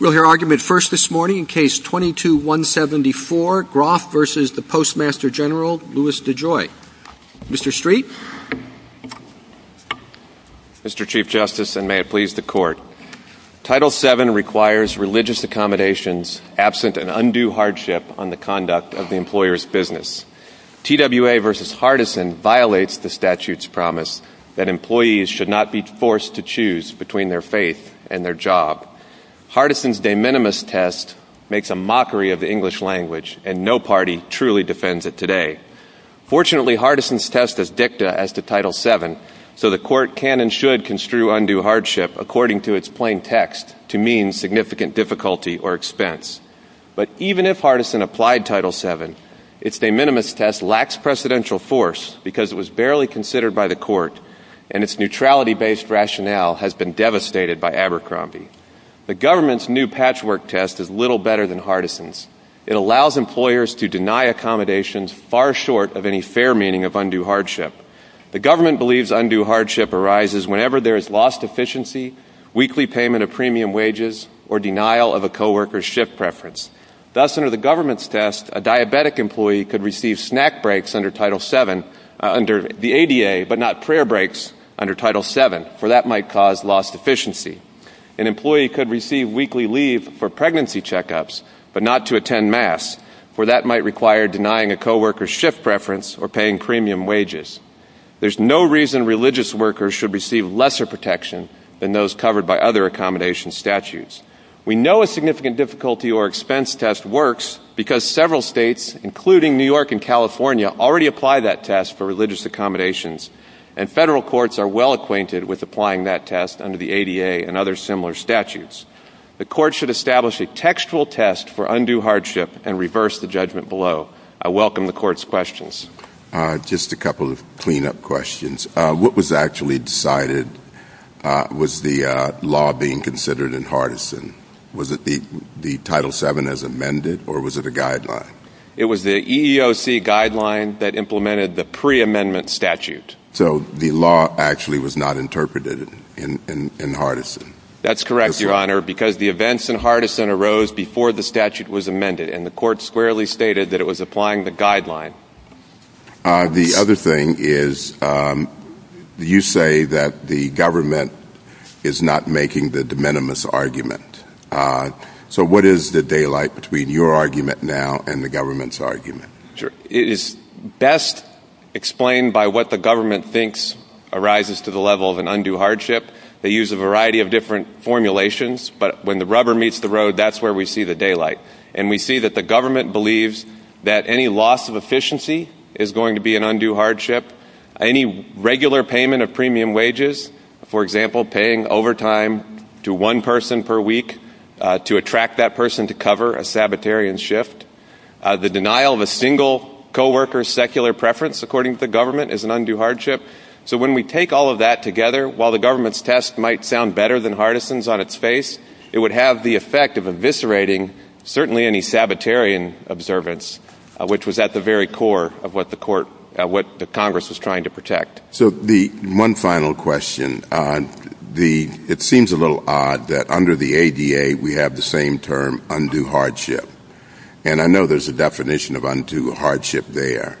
We'll hear argument first this morning in Case 22-174, Groff v. Postmaster General Louis DeJoy. Mr. Street? Mr. Chief Justice, and may it please the Court, Title VII requires religious accommodations absent an undue hardship on the conduct of the employer's business. TWA v. Hardison violates the statute's promise that employees should not be forced to choose between their faith and their job. Hardison's de minimis test makes a mockery of the English language, and no party truly defends it today. Fortunately, Hardison's test is dicta as to Title VII, so the Court can and should construe undue hardship according to its plain text to mean significant difficulty or expense. But even if Hardison applied Title VII, its de minimis test lacks precedential force because it was barely considered by the Court, and its neutrality-based rationale has been devastated by Abercrombie. The government's new patchwork test is little better than Hardison's. It allows employers to deny accommodations far short of any fair meaning of undue hardship. The government believes undue hardship arises whenever there is lost efficiency, weekly payment of premium wages, or denial of a co-worker's shift preference. Thus, under the government's test, a diabetic employee could receive snack breaks under the ADA, but not prayer breaks under Title VII, for that might cause lost efficiency. An employee could receive weekly leave for pregnancy check-ups, but not to attend Mass, for that might require denying a co-worker's shift preference or paying premium wages. There's no reason religious workers should receive lesser protection than those covered by other accommodation statutes. We know a significant difficulty or expense test works because several states, including New York and California, already apply that test for religious accommodations, and federal courts are well acquainted with applying that test under the ADA and other similar statutes. The Court should establish a textual test for undue hardship and reverse the judgment below. I welcome the Court's questions. Just a couple of clean-up questions. What was actually decided? Was the law being considered in Hardison? Was it the Title VII as amended, or was it a guideline? It was the EEOC guideline that implemented the pre-amendment statute. So the law actually was not interpreted in Hardison? That's correct, Your Honor, because the events in Hardison arose before the statute was amended, and the Court squarely stated that it was applying the guideline. The other thing is you say that the government is not making the de minimis argument. So what is the daylight between your argument now and the government's argument? It is best explained by what the government thinks arises to the level of an undue hardship. They use a variety of different formulations, but when the rubber meets the road, that's where we see the daylight. And we see that the government believes that any loss of efficiency is going to be an undue hardship, any regular payment of premium wages, for example, paying overtime to one person per week to attract that person to cover a Sabbatarian shift, the denial of a single co-worker's secular preference, according to the government, is an undue hardship. So when we take all of that together, while the government's test might sound better than Hardison's on its face, it would have the effect of eviscerating certainly any Sabbatarian observance, which was at the very core of what the Congress was trying to protect. So one final question. It seems a little odd that under the ADA we have the same term, undue hardship. And I know there's a definition of undue hardship there,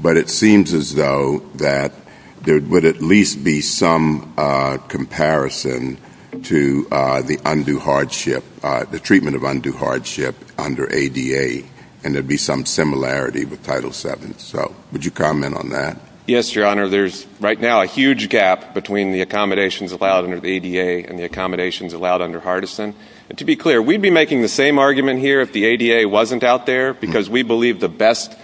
but it seems as though that there would at least be some comparison to the undue hardship, the treatment of undue hardship under ADA, and there would be some similarity with Title VII. So would you comment on that? Yes, Your Honor. There's right now a huge gap between the accommodations allowed under the ADA and the accommodations allowed under Hardison. And to be clear, we'd be making the same argument here if the ADA wasn't out there because we believe the best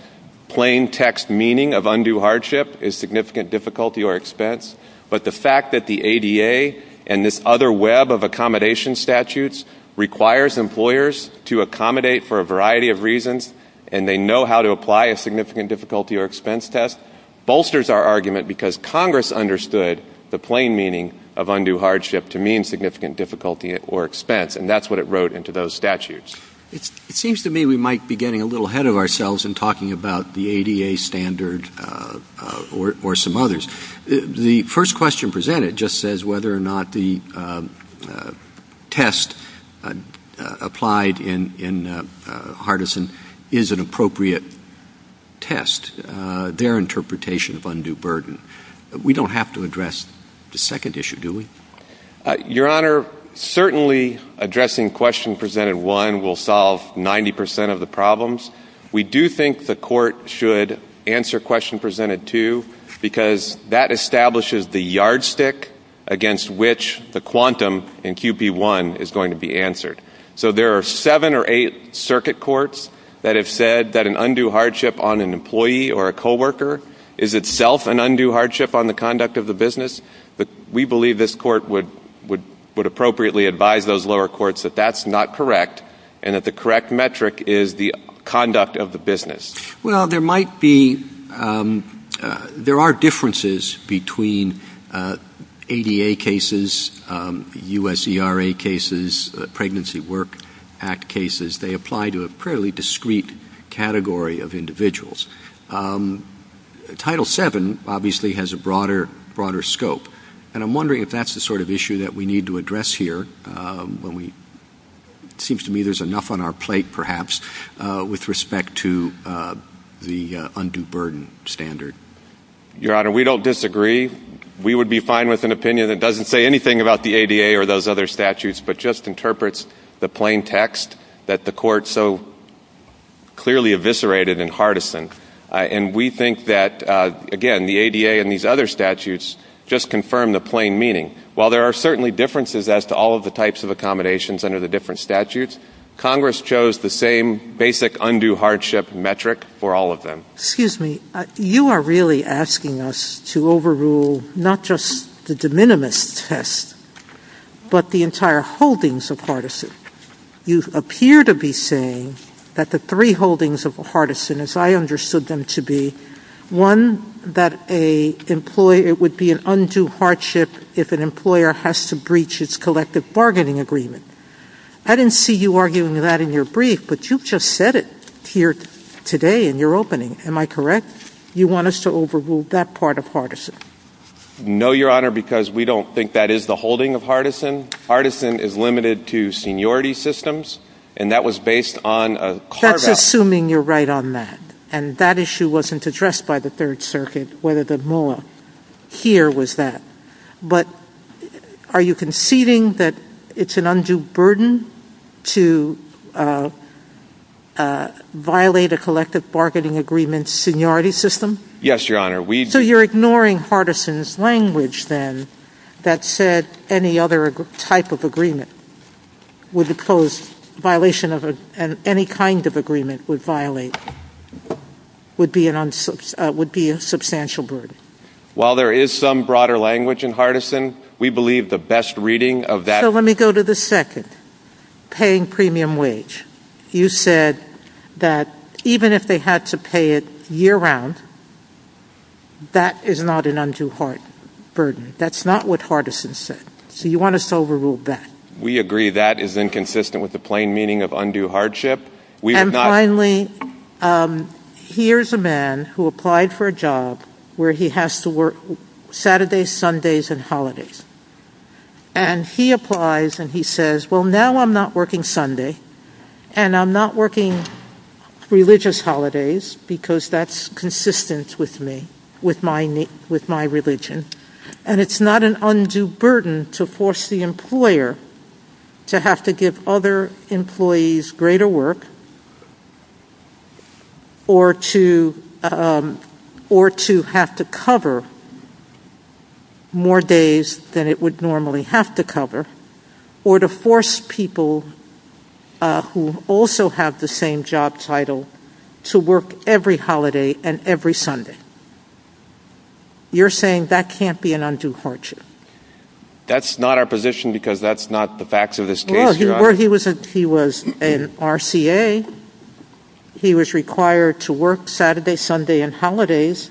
plain text meaning of undue hardship is significant difficulty or expense. But the fact that the ADA and this other web of accommodation statutes requires employers to accommodate for a variety of reasons and they know how to apply a significant difficulty or expense test bolsters our argument because Congress understood the plain meaning of undue hardship to mean significant difficulty or expense, and that's what it wrote into those statutes. It seems to me we might be getting a little ahead of ourselves in talking about the ADA standard or some others. The first question presented just says whether or not the test applied in Hardison is an appropriate test, their interpretation of undue burden. We don't have to address the second issue, do we? Your Honor, certainly addressing question presented one will solve 90 percent of the problems. We do think the court should answer question presented two because that establishes the yardstick against which the quantum in QP1 is going to be answered. So there are seven or eight circuit courts that have said that an undue hardship on an employee or a co-worker is itself an undue hardship on the conduct of the business. We believe this court would appropriately advise those lower courts that that's not correct and that the correct metric is the conduct of the business. Well, there are differences between ADA cases, USERA cases, Pregnancy Work Act cases. They apply to a fairly discrete category of individuals. Title VII obviously has a broader scope, and I'm wondering if that's the sort of issue that we need to address here. It seems to me there's enough on our plate, perhaps, with respect to the undue burden standard. Your Honor, we don't disagree. We would be fine with an opinion that doesn't say anything about the ADA or those other statutes but just interprets the plain text that the court so clearly eviscerated in Hardison. And we think that, again, the ADA and these other statutes just confirm the plain meaning. While there are certainly differences as to all of the types of accommodations under the different statutes, Congress chose the same basic undue hardship metric for all of them. Excuse me. You are really asking us to overrule not just the de minimis test but the entire holdings of Hardison. You appear to be saying that the three holdings of Hardison, as I understood them to be, one, that it would be an undue hardship if an employer has to breach its collective bargaining agreement. I didn't see you arguing that in your brief, but you just said it here today in your opening. Am I correct? You want us to overrule that part of Hardison? No, Your Honor, because we don't think that is the holding of Hardison. Hardison is limited to seniority systems, and that was based on a hard- That's assuming you're right on that. And that issue wasn't addressed by the Third Circuit, whether the MOA here was that. But are you conceding that it's an undue burden to violate a collective bargaining agreement seniority system? Yes, Your Honor, we- So you're ignoring Hardison's language then that said any other type of agreement would impose- violation of any kind of agreement would violate- would be a substantial burden. While there is some broader language in Hardison, we believe the best reading of that- So let me go to the second. Paying premium wage. You said that even if they had to pay it year-round, that is not an undue burden. That's not what Hardison said. So you want us to overrule that. We agree that is inconsistent with the plain meaning of undue hardship. And finally, here's a man who applied for a job where he has to work Saturdays, Sundays, and holidays. And he applies and he says, well now I'm not working Sunday, and I'm not working religious holidays, because that's consistent with me, with my religion. And it's not an undue burden to force the employer to have to give other employees greater work, or to have to cover more days than it would normally have to cover, or to force people who also have the same job title to work every holiday and every Sunday. You're saying that can't be an undue hardship. That's not our position because that's not the facts of this case. He was an RCA. He was required to work Saturday, Sunday, and holidays.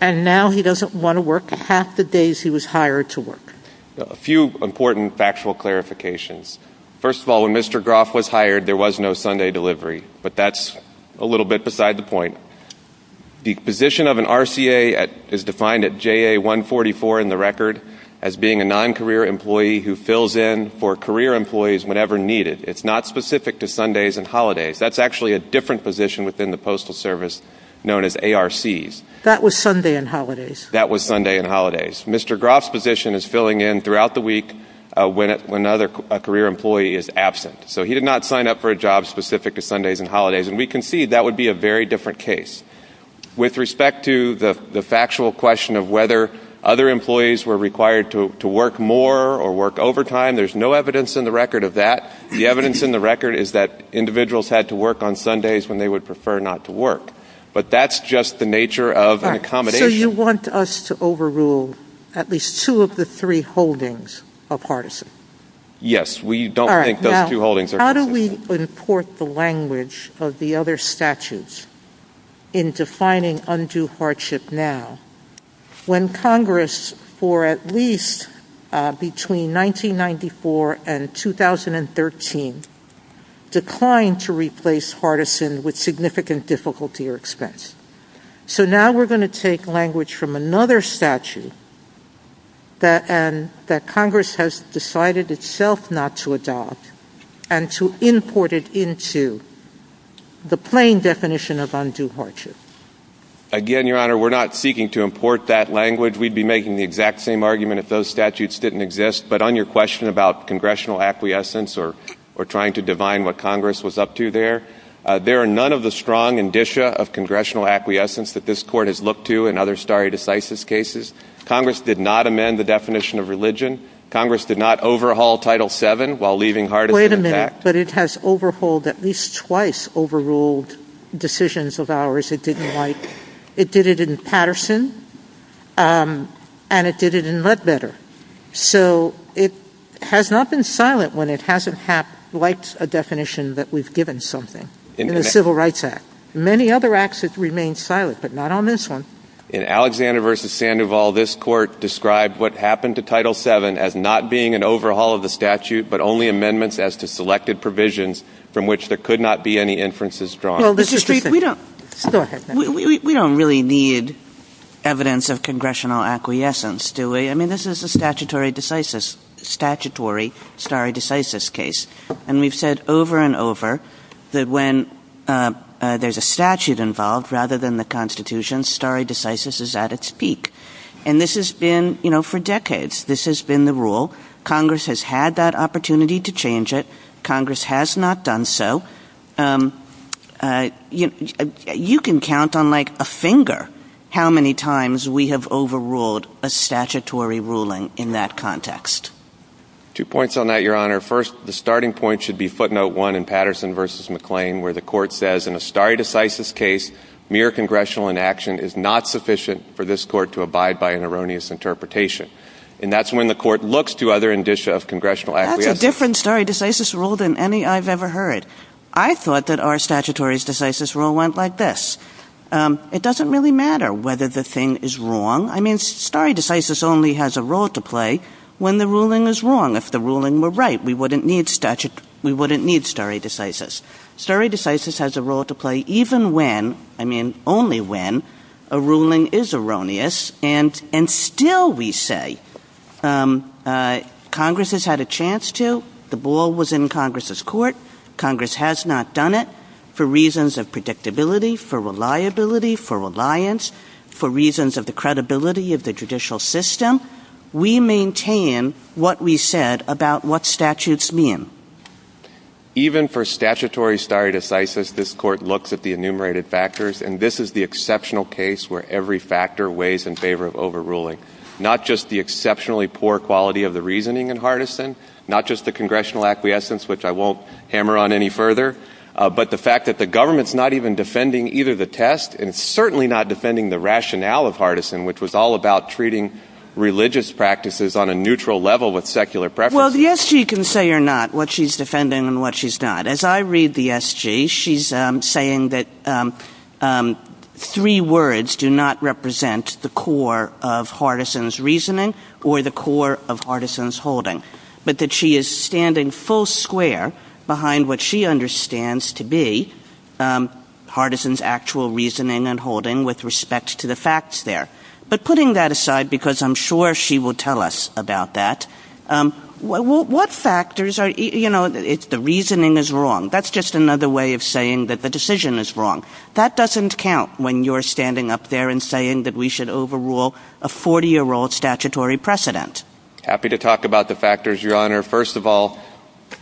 And now he doesn't want to work half the days he was hired to work. A few important factual clarifications. First of all, when Mr. Groff was hired, there was no Sunday delivery. But that's a little bit beside the point. The position of an RCA is defined at JA 144 in the record as being a non-career employee who fills in for career employees whenever needed. It's not specific to Sundays and holidays. That's actually a different position within the Postal Service known as ARCs. That was Sunday and holidays. That was Sunday and holidays. Mr. Groff's position is filling in throughout the week when another career employee is absent. So he did not sign up for a job specific to Sundays and holidays. And we concede that would be a very different case. With respect to the factual question of whether other employees were required to work more or work overtime, there's no evidence in the record of that. The evidence in the record is that individuals had to work on Sundays when they would prefer not to work. But that's just the nature of an accommodation. So you want us to overrule at least two of the three holdings are partisan. Yes, we don't think those two holdings are partisan. How do we import the language of the other statutes in defining undue hardship now when Congress, for at least between 1994 and 2013, declined to replace partisan with significant difficulty or expense? So now we're going to take language from another statute that Congress has decided itself not to adopt and to import it into the plain definition of undue hardship. Again, Your Honor, we're not seeking to import that language. We'd be making the exact same argument if those statutes didn't exist. But on your question about congressional acquiescence or trying to divine what Congress was up to there, there are none of the strong indicia of congressional acquiescence that this Court has looked to in other stare decisis cases. Congress did not amend the definition of religion. Congress did not overhaul Title VII while leaving hardship intact. Wait a minute. But it has overhauled at least twice overruled decisions of ours it didn't like. It did it in Patterson, and it did it in Mudbedder. So it has not been silent when it hasn't liked a definition that we've given something in the Civil Rights Act. In many other acts it remains silent, but not on this one. In Alexander v. Sandoval, this Court described what happened to Title VII as not being an overhaul of the statute but only amendments as to selected provisions from which there could not be any inferences drawn. Mr. Striefen, we don't really need evidence of congressional acquiescence, do we? I mean, this is a statutory stare decisis case. And we've said over and over that when there's a statute involved rather than the Constitution, stare decisis is at its peak. And this has been, you know, for decades. This has been the rule. Congress has had that opportunity to change it. Congress has not done so. You can count on, like, a finger how many times we have overruled a statutory ruling in that context. Two points on that, Your Honor. First, the starting point should be footnote one in Patterson v. McClain where the Court says, in a stare decisis case, mere congressional inaction is not sufficient for this Court to abide by an erroneous interpretation. And that's when the Court looks to other indicia of congressional acquiescence. This is a different stare decisis rule than any I've ever heard. I thought that our statutory stare decisis rule went like this. It doesn't really matter whether the thing is wrong. I mean, stare decisis only has a role to play when the ruling is wrong. If the ruling were right, we wouldn't need stare decisis. Stare decisis has a role to play even when, I mean only when, a ruling is erroneous. And still we say Congress has had a chance to. The ball was in Congress's court. Congress has not done it for reasons of predictability, for reliability, for reliance, for reasons of the credibility of the judicial system. We maintain what we said about what statutes mean. Even for statutory stare decisis, this Court looks at the enumerated factors, and this is the exceptional case where every factor weighs in favor of overruling. Not just the exceptionally poor quality of the reasoning in Hardison, not just the congressional acquiescence, which I won't hammer on any further, but the fact that the government's not even defending either the test and certainly not defending the rationale of Hardison, which was all about treating religious practices on a neutral level with secular preferences. Well, the SG can say or not what she's defending and what she's not. As I read the SG, she's saying that three words do not represent the core of Hardison's reasoning or the core of Hardison's holding, but that she is standing full square behind what she understands to be Hardison's actual reasoning and holding with respect to the facts there. But putting that aside, because I'm sure she will tell us about that, what factors are, you know, the reasoning is wrong. That's just another way of saying that the decision is wrong. That doesn't count when you're standing up there and saying that we should overrule a 40-year-old statutory precedent. Happy to talk about the factors, Your Honor. First of all,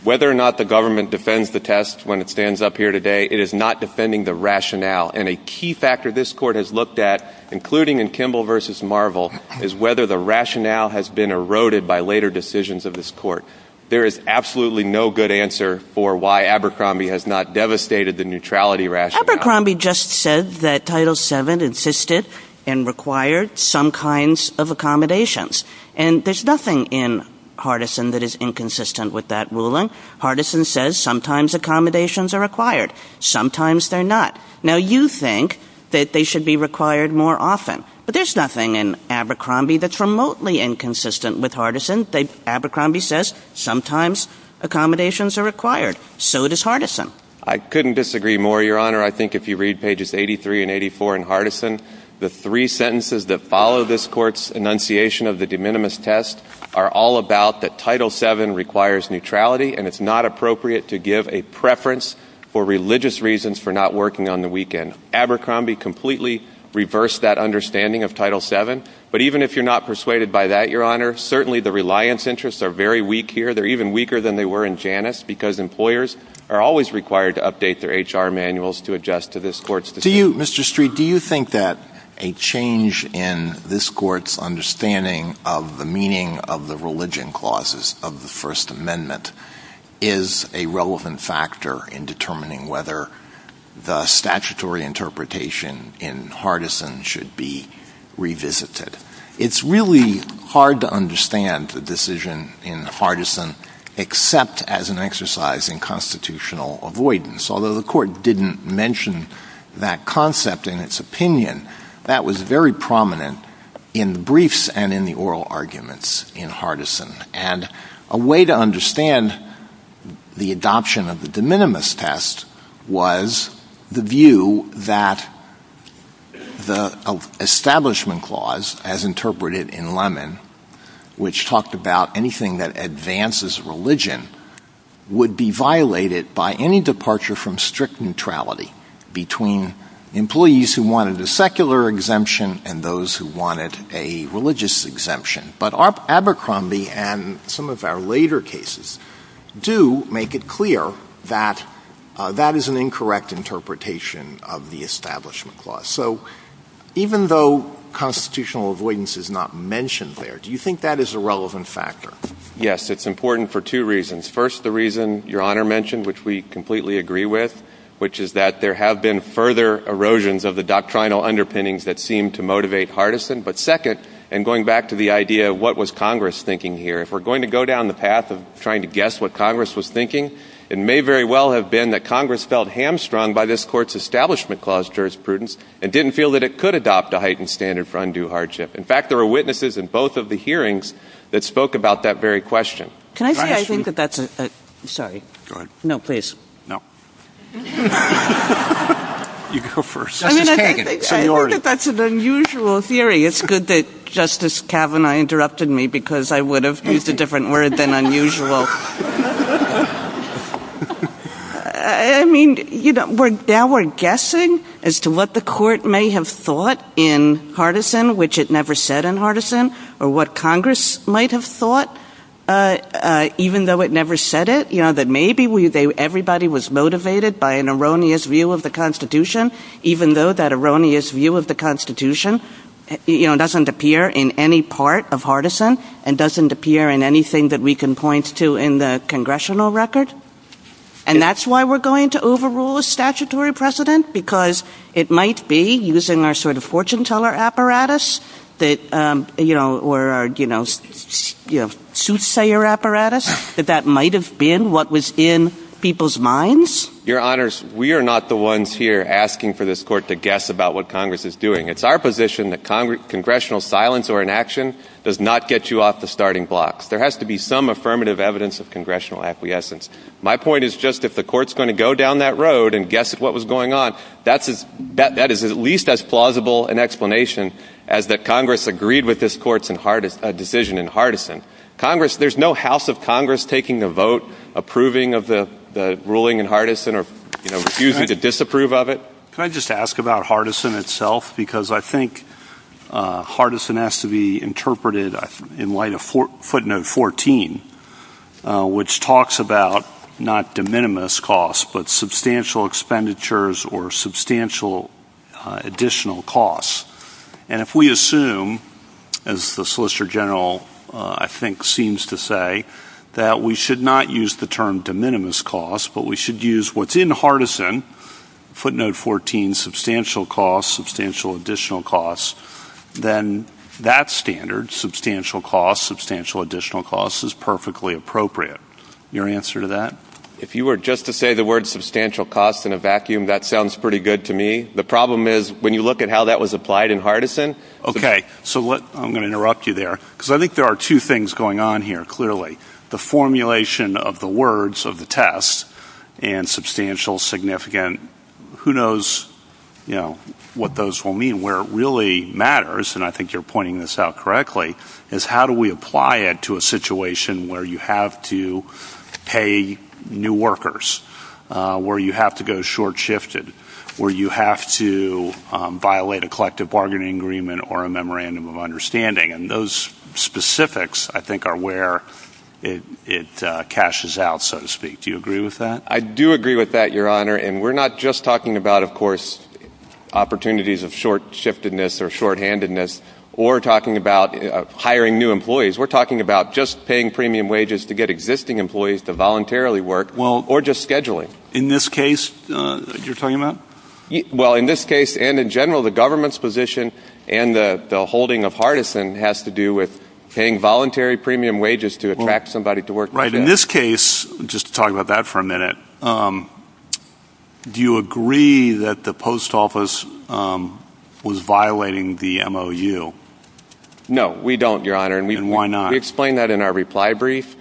whether or not the government defends the test when it stands up here today, it is not defending the rationale. And a key factor this Court has looked at, including in Kimball v. Marvel, is whether the rationale has been eroded by later decisions of this Court. There is absolutely no good answer for why Abercrombie has not devastated the neutrality rationale. Abercrombie just said that Title VII insisted and required some kinds of accommodations. And there's nothing in Hardison that is inconsistent with that ruling. Hardison says sometimes accommodations are required, sometimes they're not. Now, you think that they should be required more often, but there's nothing in Abercrombie that's remotely inconsistent with Hardison. Abercrombie says sometimes accommodations are required. So does Hardison. I couldn't disagree more, Your Honor. I think if you read pages 83 and 84 in Hardison, the three sentences that follow this Court's enunciation of the de minimis test are all about that Title VII requires neutrality, and it's not appropriate to give a preference for religious reasons for not working on the weekend. Abercrombie completely reversed that understanding of Title VII, but even if you're not persuaded by that, Your Honor, certainly the reliance interests are very weak here. They're even weaker than they were in Janus because employers are always required to update their HR manuals to adjust to this Court's decision. Do you, Mr. Street, do you think that a change in this Court's understanding of the meaning of the religion clauses of the First Amendment is a relevant factor in determining whether the statutory interpretation in Hardison should be revisited? It's really hard to understand the decision in Hardison except as an exercise in constitutional avoidance. Although the Court didn't mention that concept in its opinion, that was very prominent in the briefs and in the oral arguments in Hardison. And a way to understand the adoption of the de minimis test was the view that the Establishment Clause, as interpreted in Lemon, which talked about anything that advances religion, would be violated by any departure from strict neutrality between employees who wanted a secular exemption and those who wanted a religious exemption. But Abercrombie and some of our later cases do make it clear that that is an incorrect interpretation of the Establishment Clause. So even though constitutional avoidance is not mentioned there, do you think that is a relevant factor? Yes, it's important for two reasons. First, the reason Your Honor mentioned, which we completely agree with, which is that there have been further erosions of the doctrinal underpinnings that seem to motivate Hardison. But second, and going back to the idea of what was Congress thinking here, if we're going to go down the path of trying to guess what Congress was thinking, it may very well have been that Congress felt hamstrung by this Court's Establishment Clause jurisprudence and didn't feel that it could adopt a heightened standard for undue hardship. In fact, there were witnesses in both of the hearings that spoke about that very question. Can I say I think that that's a... Sorry. Go ahead. No, please. No. You go first. I think that that's an unusual theory. It's good that Justice Kavanaugh interrupted me because I would have used a different word than unusual. I mean, now we're guessing as to what the Court may have thought in Hardison, which it never said in Hardison, or what Congress might have thought even though it never said it, that maybe everybody was motivated by an erroneous view of the Constitution, even though that erroneous view of the Constitution doesn't appear in any part of Hardison and doesn't appear in anything that we can point to in the Congressional record. And that's why we're going to overrule a statutory precedent because it might be using our sort of fortune-teller apparatus or our soothsayer apparatus that that might have been what was in people's minds. Your Honors, we are not the ones here asking for this Court to guess about what Congress is doing. It's our position that Congressional silence or inaction does not get you off the starting blocks. There has to be some affirmative evidence of Congressional acquiescence. My point is just if the Court's going to go down that road and guess at what was going on, that is at least as plausible an explanation as that Congress agreed with this Court's decision in Hardison. Congress, there's no House of Congress taking the vote, approving of the ruling in Hardison or refusing to disapprove of it. Can I just ask about Hardison itself? Because I think Hardison has to be interpreted in light of footnote 14, which talks about not de minimis costs but substantial expenditures or substantial additional costs. And if we assume, as the Solicitor General I think seems to say, that we should not use the term de minimis costs but we should use what's in Hardison, footnote 14, substantial costs, substantial additional costs, then that standard, substantial costs, substantial additional costs, is perfectly appropriate. Your answer to that? If you were just to say the word substantial costs in a vacuum, that sounds pretty good to me. The problem is when you look at how that was applied in Hardison... Okay, so I'm going to interrupt you there because I think there are two things going on here clearly. The formulation of the words of the test, and substantial, significant, who knows what those will mean. Where it really matters, and I think you're pointing this out correctly, is how do we apply it to a situation where you have to pay new workers, where you have to go short-shifted, where you have to violate a collective bargaining agreement or a memorandum of understanding. And those specifics, I think, are where it cashes out, so to speak. Do you agree with that? I do agree with that, Your Honor, and we're not just talking about, of course, opportunities of short-shiftedness or shorthandedness or talking about hiring new employees. We're talking about just paying premium wages to get existing employees to voluntarily work or just scheduling. In this case, you're talking about? Well, in this case and in general, the government's position and the holding of Hardison has to do with paying voluntary premium wages to attract somebody to work. Right. In this case, just to talk about that for a minute, do you agree that the post office was violating the MOU? No, we don't, Your Honor. And why not? We explain that in our reply brief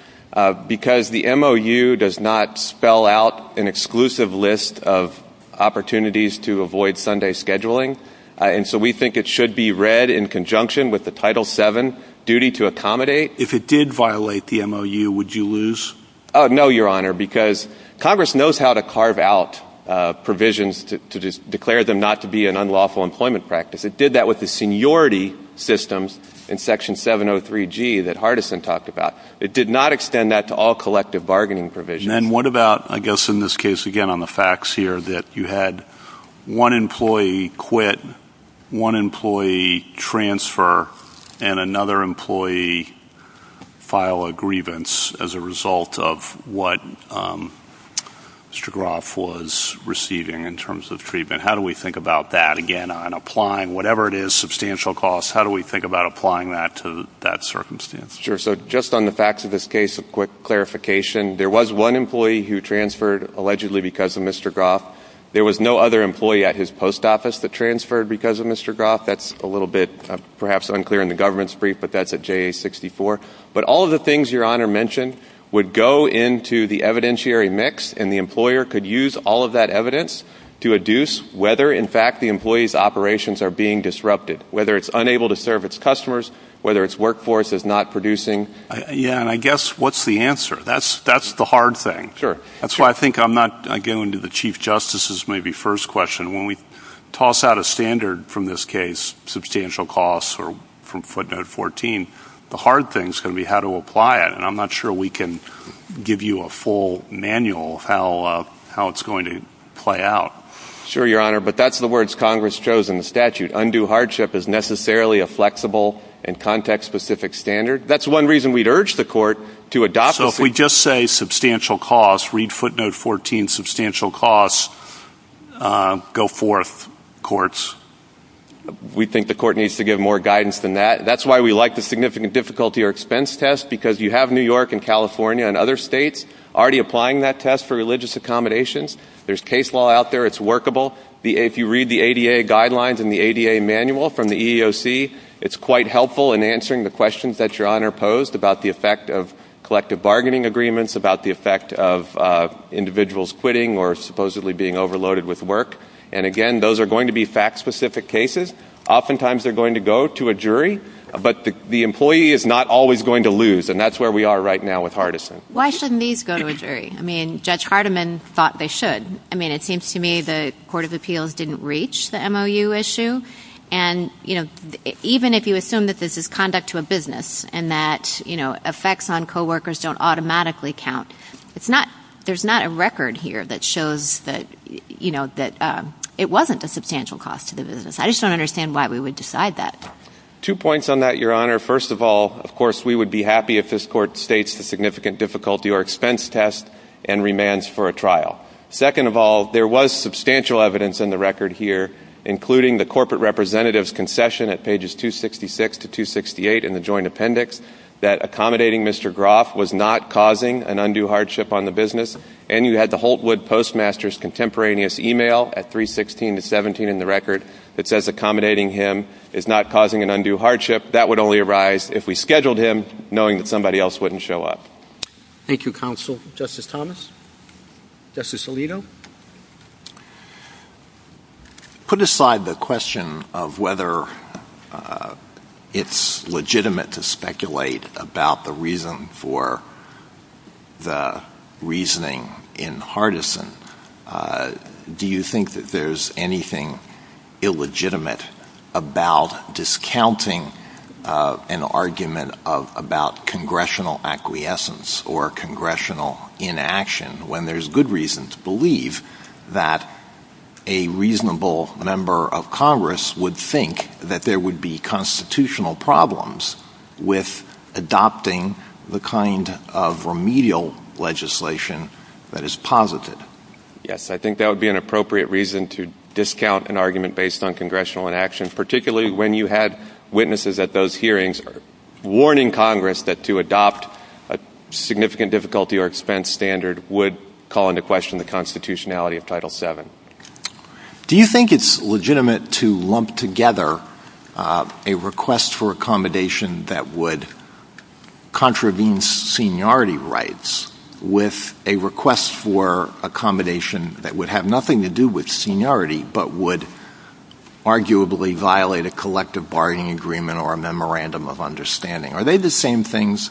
because the MOU does not spell out an exclusive list of opportunities to avoid Sunday scheduling, and so we think it should be read in conjunction with the Title VII duty to accommodate. If it did violate the MOU, would you lose? No, Your Honor, because Congress knows how to carve out provisions to declare them not to be an unlawful employment practice. It did that with the seniority systems in Section 703G that Hardison talked about. It did not extend that to all collective bargaining provisions. And then what about, I guess in this case, again, on the facts here, that you had one employee quit, one employee transfer, and another employee file a grievance as a result of what Mr. Groff was receiving in terms of treatment? How do we think about that, again, on applying whatever it is, substantial costs? How do we think about applying that to that circumstance? Sure. So just on the facts of this case, a quick clarification. There was one employee who transferred allegedly because of Mr. Groff. There was no other employee at his post office that transferred because of Mr. Groff. That's a little bit perhaps unclear in the government's brief, but that's at JA-64. But all of the things Your Honor mentioned would go into the evidentiary mix, and the employer could use all of that evidence to adduce whether, in fact, the employee's operations are being disrupted, whether it's unable to serve its customers, whether its workforce is not producing. Yeah, and I guess what's the answer? That's the hard thing. Sure. That's why I think I'm not going to the Chief Justice's maybe first question. When we toss out a standard from this case, substantial costs or from footnote 14, the hard thing is going to be how to apply it, and I'm not sure we can give you a full manual of how it's going to play out. Sure, Your Honor, but that's the words Congress chose in the statute. Undue hardship is necessarily a flexible and context-specific standard. That's one reason we'd urge the court to adopt it. So if we just say substantial costs, read footnote 14, substantial costs, go forth, courts. We think the court needs to give more guidance than that. That's why we like the significant difficulty or expense test, because you have New York and California and other states already applying that test for religious accommodations. There's case law out there. It's workable. If you read the ADA guidelines in the ADA manual from the EEOC, it's quite helpful in answering the questions that Your Honor posed about the effect of collective bargaining agreements, about the effect of individuals quitting or supposedly being overloaded with work. And, again, those are going to be fact-specific cases. Oftentimes they're going to go to a jury, but the employee is not always going to lose, and that's where we are right now with Hardison. Why shouldn't these go to a jury? I mean, Judge Hardiman thought they should. I mean, it seems to me the Court of Appeals didn't reach the MOU issue, and, you know, even if you assume that this is conduct to a business and that, you know, effects on coworkers don't automatically count, there's not a record here that shows that, you know, that it wasn't a substantial cost to the business. I just don't understand why we would decide that. Two points on that, Your Honor. First of all, of course, we would be happy if this court states the significant difficulty or expense test and remands for a trial. Second of all, there was substantial evidence in the record here, including the corporate representative's concession at pages 266 to 268 in the joint appendix, that accommodating Mr. Groff was not causing an undue hardship on the business, and you had the Holtwood Postmaster's contemporaneous e-mail at 316 to 317 in the record that says accommodating him is not causing an undue hardship. That would only arise if we scheduled him, knowing that somebody else wouldn't show up. Thank you, Counsel. Justice Thomas? Justice Alito? Put aside the question of whether it's legitimate to speculate about the reason for the reasoning in Hardison, do you think that there's anything illegitimate about discounting an argument about congressional acquiescence or congressional inaction when there's good reason to believe that a reasonable number of Congress would think that there would be constitutional problems with adopting the kind of remedial legislation that is positive? Yes, I think that would be an appropriate reason to discount an argument based on congressional inaction, particularly when you had witnesses at those hearings warning Congress that to adopt a significant difficulty or expense standard would call into question the constitutionality of Title VII. Do you think it's legitimate to lump together a request for accommodation that would contravene seniority rights with a request for accommodation that would have nothing to do with seniority but would arguably violate a collective bargaining agreement or a memorandum of understanding? Are they the same things?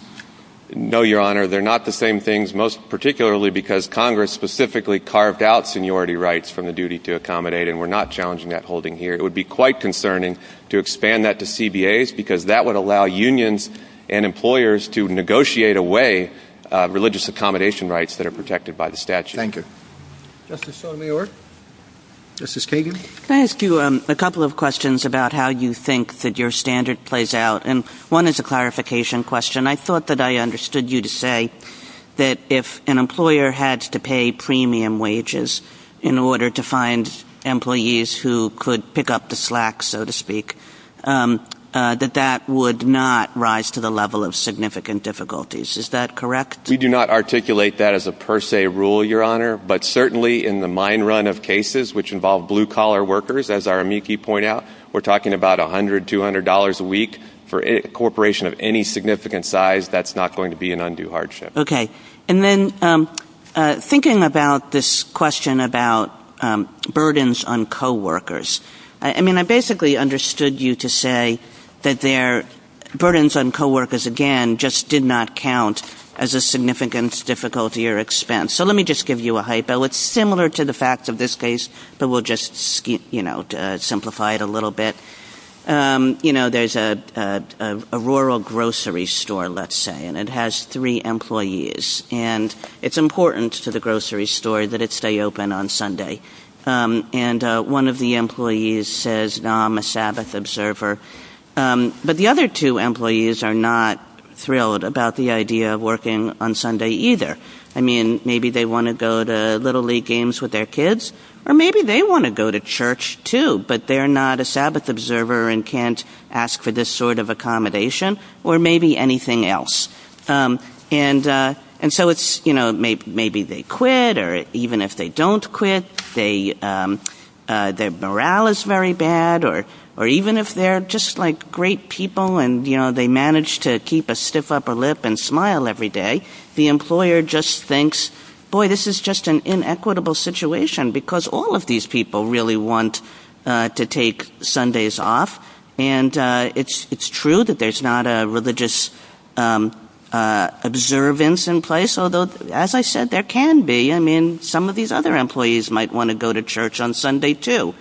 No, Your Honor, they're not the same things, particularly because Congress specifically carved out seniority rights from the duty to accommodate, and we're not challenging that holding here. It would be quite concerning to expand that to CBAs because that would allow unions and employers to negotiate away religious accommodation rights that are protected by the statute. Thank you. Justice Sotomayor? Justice Kagan? Can I ask you a couple of questions about how you think that your standard plays out? And one is a clarification question. I thought that I understood you to say that if an employer had to pay premium wages in order to find employees who could pick up the slack, so to speak, that that would not rise to the level of significant difficulties. Is that correct? We do not articulate that as a per se rule, Your Honor, but certainly in the mine run of cases which involve blue-collar workers, as our amici point out, we're talking about $100, $200 a week for a corporation of any significant size. That's not going to be an undue hardship. Okay. And then thinking about this question about burdens on coworkers, I mean, I basically understood you to say that burdens on coworkers, again, just did not count as a significant difficulty or expense. So let me just give you a hypo. It's similar to the fact of this case, but we'll just simplify it a little bit. You know, there's a rural grocery store, let's say, and it has three employees. And it's important to the grocery store that it stay open on Sunday. And one of the employees says, you know, I'm a Sabbath observer. But the other two employees are not thrilled about the idea of working on Sunday either. I mean, maybe they want to go to Little League games with their kids, or maybe they want to go to church too, but they're not a Sabbath observer and can't ask for this sort of accommodation, or maybe anything else. And so it's, you know, maybe they quit, or even if they don't quit, their morale is very bad, or even if they're just, like, great people and, you know, they manage to keep a stiff upper lip and smile every day, the employer just thinks, boy, this is just an inequitable situation, because all of these people really want to take Sundays off. And it's true that there's not a religious observance in place, although, as I said, there can be. I mean, some of these other employees might want to go to church on Sunday too.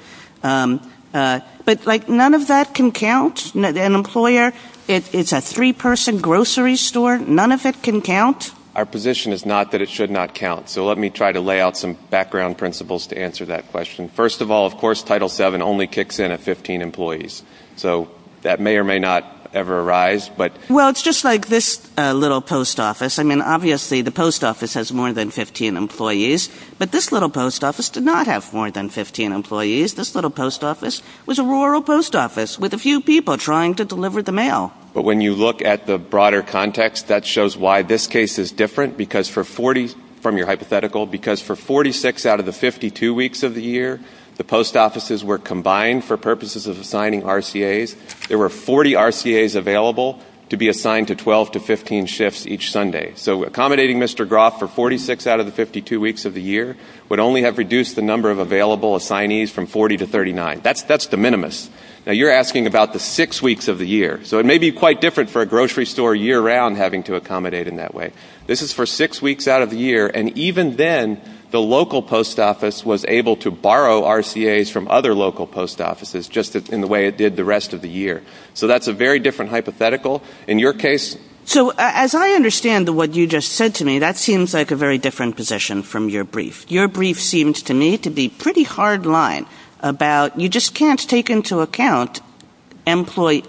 But, like, none of that can count. An employer, it's a three-person grocery store. None of it can count. Our position is not that it should not count. So let me try to lay out some background principles to answer that question. First of all, of course, Title VII only kicks in at 15 employees. So that may or may not ever arise. Well, it's just like this little post office. I mean, obviously the post office has more than 15 employees, but this little post office did not have more than 15 employees. This little post office was a rural post office with a few people trying to deliver the mail. But when you look at the broader context, that shows why this case is different, because for 40, from your hypothetical, because for 46 out of the 52 weeks of the year, the post offices were combined for purposes of assigning RCAs. There were 40 RCAs available to be assigned to 12 to 15 shifts each Sunday. So accommodating Mr. Groff for 46 out of the 52 weeks of the year would only have reduced the number of available assignees from 40 to 39. That's de minimis. Now, you're asking about the six weeks of the year. So it may be quite different for a grocery store year-round having to accommodate in that way. This is for six weeks out of the year, and even then, the local post office was able to borrow RCAs from other local post offices just in the way it did the rest of the year. So that's a very different hypothetical. In your case? So as I understand what you just said to me, that seems like a very different position from your brief. Your brief seems to me to be pretty hard line about you just can't take into account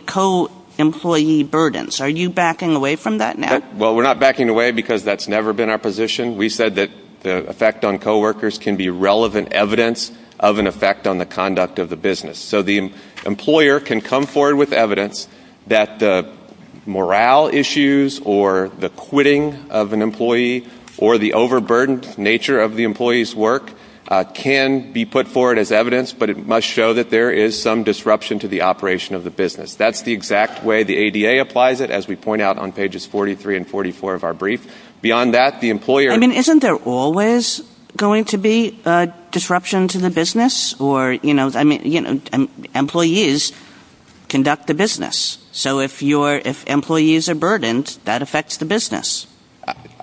co-employee burdens. Are you backing away from that now? Well, we're not backing away because that's never been our position. We said that the effect on coworkers can be relevant evidence of an effect on the conduct of the business. So the employer can come forward with evidence that the morale issues or the quitting of an employee or the overburdened nature of the employee's work can be put forward as evidence, but it must show that there is some disruption to the operation of the business. That's the exact way the ADA applies it, as we point out on pages 43 and 44 of our brief. Beyond that, the employer— I mean, isn't there always going to be disruption to the business? Or, you know, employees conduct the business. So if employees are burdened, that affects the business.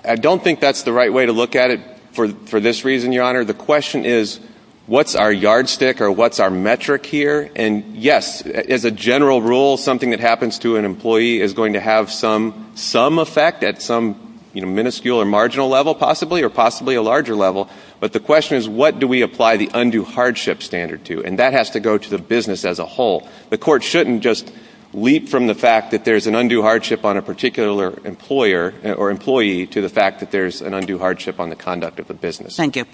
I don't think that's the right way to look at it for this reason, Your Honor. The question is, what's our yardstick or what's our metric here? And, yes, as a general rule, something that happens to an employee is going to have some effect at some minuscule or marginal level, possibly, or possibly a larger level. But the question is, what do we apply the undue hardship standard to? And that has to go to the business as a whole. The court shouldn't just leap from the fact that there's an undue hardship on a particular employer or employee to the fact that there's an undue hardship on the conduct of the business. Thank you.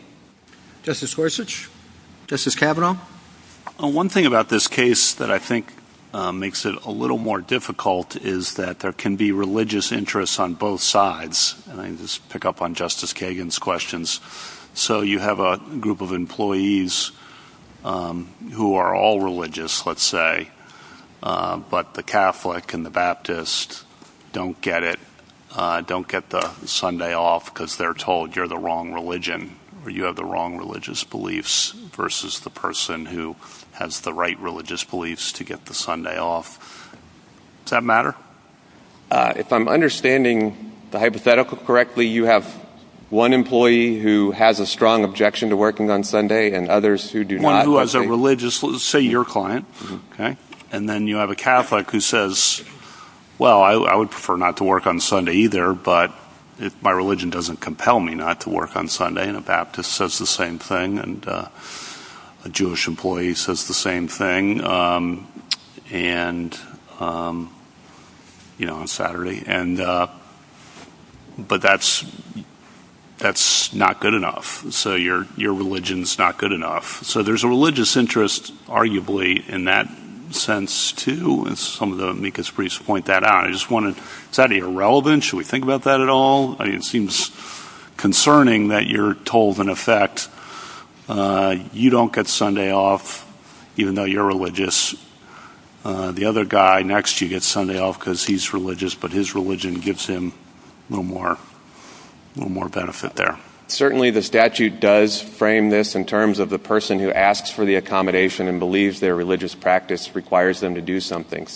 Justice Gorsuch? Justice Kavanaugh? One thing about this case that I think makes it a little more difficult is that there can be religious interests on both sides. Let me just pick up on Justice Kagan's questions. So you have a group of employees who are all religious, let's say, but the Catholic and the Baptist don't get it, don't get the Sunday off because they're told you're the wrong religion or you have the wrong religious beliefs versus the person who has the right religious beliefs to get the Sunday off. Does that matter? If I'm understanding the hypothetical correctly, you have one employee who has a strong objection to working on Sunday and others who do not. One who has a religious, say, your client, and then you have a Catholic who says, Well, I would prefer not to work on Sunday either, but my religion doesn't compel me not to work on Sunday, and a Baptist says the same thing and a Jewish employee says the same thing on Saturday. But that's not good enough, so your religion is not good enough. So there's a religious interest, arguably, in that sense, too, and some of the amicus briefs point that out. Is that irrelevant? Should we think about that at all? It seems concerning that you're told, in effect, you don't get Sunday off even though you're religious. The other guy next to you gets Sunday off because he's religious, but his religion gives him a little more benefit there. Certainly the statute does frame this in terms of the person who asks for the accommodation and believes their religious practice requires them to do something.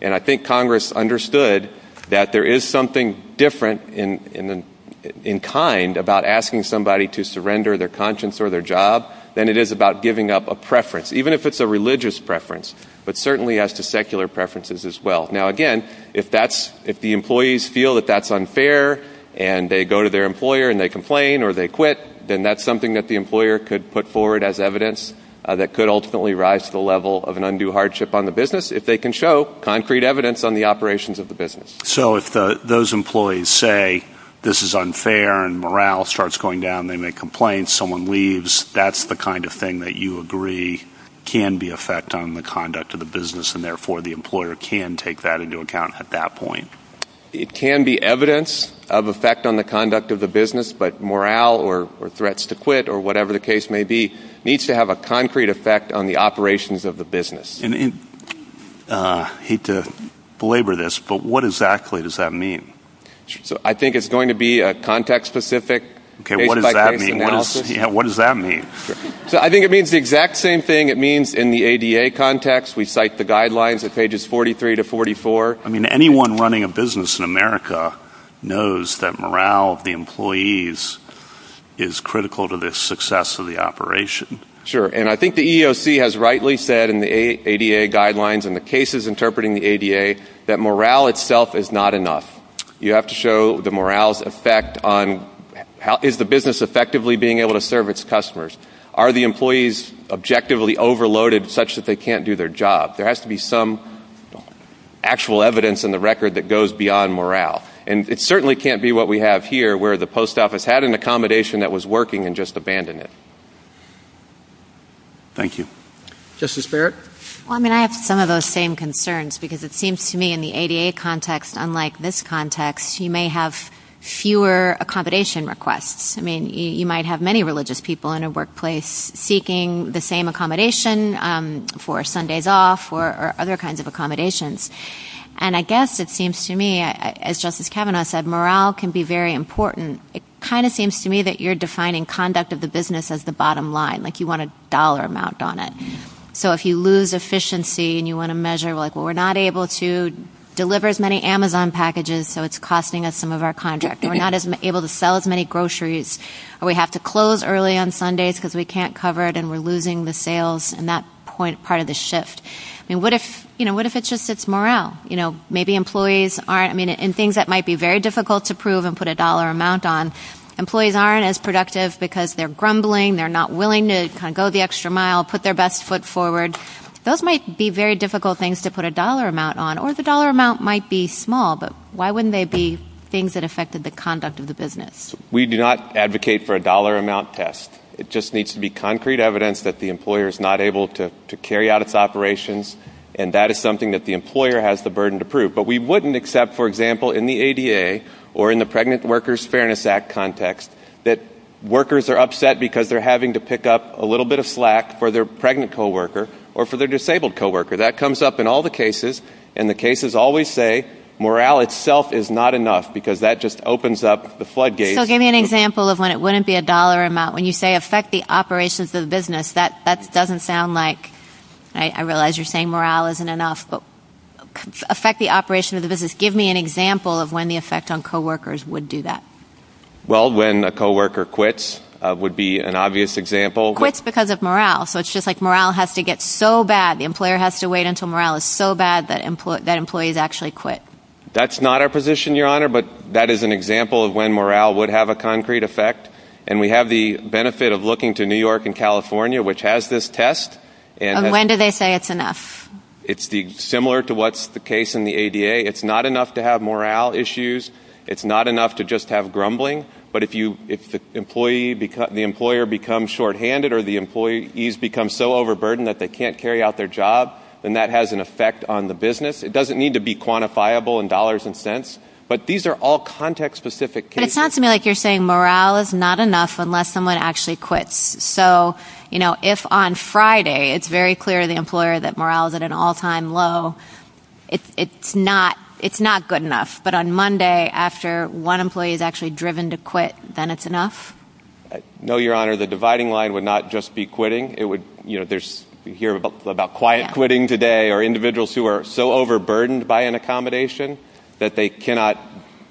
And I think Congress understood that there is something different in kind about asking somebody to surrender their conscience or their job than it is about giving up a preference, even if it's a religious preference, but certainly as to secular preferences as well. Now, again, if the employees feel that that's unfair and they go to their employer and they complain or they quit, then that's something that the employer could put forward as evidence that could ultimately rise to the level of an undue hardship on the business if they can show concrete evidence on the operations of the business. So if those employees say this is unfair and morale starts going down, they make complaints, someone leaves, that's the kind of thing that you agree can be effect on the conduct of the business and therefore the employer can take that into account at that point. It can be evidence of effect on the conduct of the business, but morale or threats to quit or whatever the case may be needs to have a concrete effect on the operations of the business. I hate to belabor this, but what exactly does that mean? I think it's going to be a context-specific case-by-case analysis. What does that mean? I think it means the exact same thing it means in the ADA context. We cite the guidelines at pages 43 to 44. I mean, anyone running a business in America knows that morale of the employees is critical to the success of the operation. Sure, and I think the EEOC has rightly said in the ADA guidelines and the cases interpreting the ADA that morale itself is not enough. You have to show the morale's effect on how is the business effectively being able to serve its customers. Are the employees objectively overloaded such that they can't do their job? There has to be some actual evidence in the record that goes beyond morale, and it certainly can't be what we have here where the post office had an accommodation that was working and just abandoned it. Thank you. Justice Barrett? I have some of those same concerns because it seems to me in the ADA context, unlike this context, you may have fewer accommodation requests. I mean, you might have many religious people in a workplace seeking the same accommodation for Sundays off or other kinds of accommodations. And I guess it seems to me, as Justice Kavanaugh said, morale can be very important. It kind of seems to me that you're defining conduct of the business as the bottom line, like you want a dollar amount on it. So if you lose efficiency and you want to measure, like, well, we're not able to deliver as many Amazon packages, so it's costing us some of our contract. We're not able to sell as many groceries, or we have to close early on Sundays because we can't cover it and we're losing the sales, and that's part of the shift. I mean, what if it's just morale? You know, maybe employees aren't – I mean, in things that might be very difficult to prove and put a dollar amount on, employees aren't as productive because they're grumbling, they're not willing to kind of go the extra mile, put their best foot forward. Those might be very difficult things to put a dollar amount on, or the dollar amount might be small, but why wouldn't they be things that affected the conduct of the business? We do not advocate for a dollar amount test. It just needs to be concrete evidence that the employer is not able to carry out its operations, and that is something that the employer has the burden to prove. But we wouldn't accept, for example, in the ADA or in the Pregnant Workers Fairness Act context, that workers are upset because they're having to pick up a little bit of slack for their pregnant coworker or for their disabled coworker. So that comes up in all the cases, and the cases always say morale itself is not enough because that just opens up the floodgates. So give me an example of when it wouldn't be a dollar amount. When you say affect the operations of the business, that doesn't sound like – I realize you're saying morale isn't enough, but affect the operations of the business. Give me an example of when the effect on coworkers would do that. Well, when a coworker quits would be an obvious example. Quits because of morale, so it's just like morale has to get so bad, the employer has to wait until morale is so bad that employees actually quit. That's not our position, Your Honor, but that is an example of when morale would have a concrete effect. And we have the benefit of looking to New York and California, which has this test. And when do they say it's enough? It's similar to what's the case in the ADA. It's not enough to have morale issues. It's not enough to just have grumbling. But if the employer becomes shorthanded or the employees become so overburdened that they can't carry out their job, then that has an effect on the business. It doesn't need to be quantifiable in dollars and cents, but these are all context-specific cases. But it sounds to me like you're saying morale is not enough unless someone actually quits. So, you know, if on Friday it's very clear to the employer that morale is at an all-time low, it's not good enough. But on Monday, after one employee is actually driven to quit, then it's enough? No, Your Honor, the dividing line would not just be quitting. You hear about quiet quitting today or individuals who are so overburdened by an accommodation that they cannot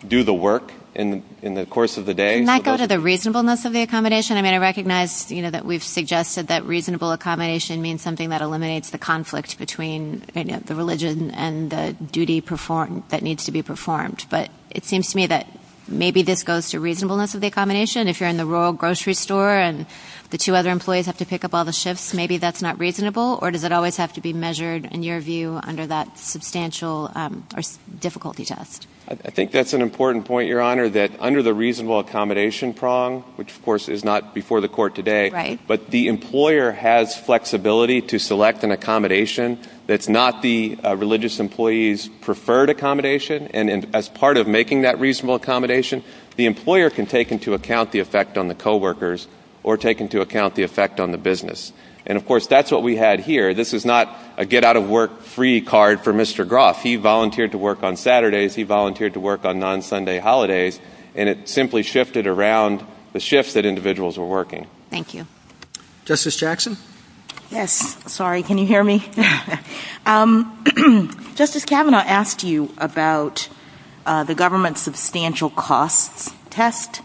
do the work in the course of the day. Can I go to the reasonableness of the accommodation? I mean, I recognize that we've suggested that reasonable accommodation means something that eliminates the conflict between the religion and the duty that needs to be performed. But it seems to me that maybe this goes to reasonableness of the accommodation. If you're in the rural grocery store and the two other employees have to pick up all the shifts, maybe that's not reasonable? Or does it always have to be measured, in your view, under that substantial difficulty test? I think that's an important point, Your Honor, that under the reasonable accommodation prong, which, of course, is not before the court today, but the employer has flexibility to select an accommodation that's not the religious employee's preferred accommodation. And as part of making that reasonable accommodation, the employer can take into account the effect on the coworkers or take into account the effect on the business. And, of course, that's what we had here. This is not a get-out-of-work-free card for Mr. Groff. He volunteered to work on Saturdays. He volunteered to work on non-Sunday holidays. And it simply shifted around the shifts that individuals were working. Thank you. Justice Jackson? Yes. Sorry, can you hear me? Justice Kavanaugh asked you about the government substantial cost test.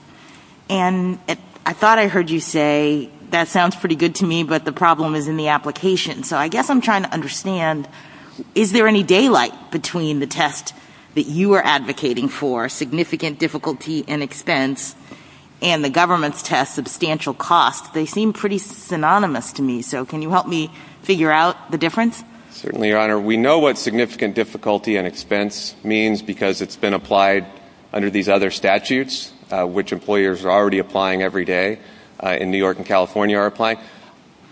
And I thought I heard you say, that sounds pretty good to me, but the problem is in the application. So I guess I'm trying to understand, is there any daylight between the test that you are advocating for, significant difficulty and expense, and the government's test, substantial cost? They seem pretty synonymous to me. So can you help me figure out the difference? Certainly, Your Honor. We know what significant difficulty and expense means because it's been applied under these other statutes, which employers are already applying every day in New York and California are applying.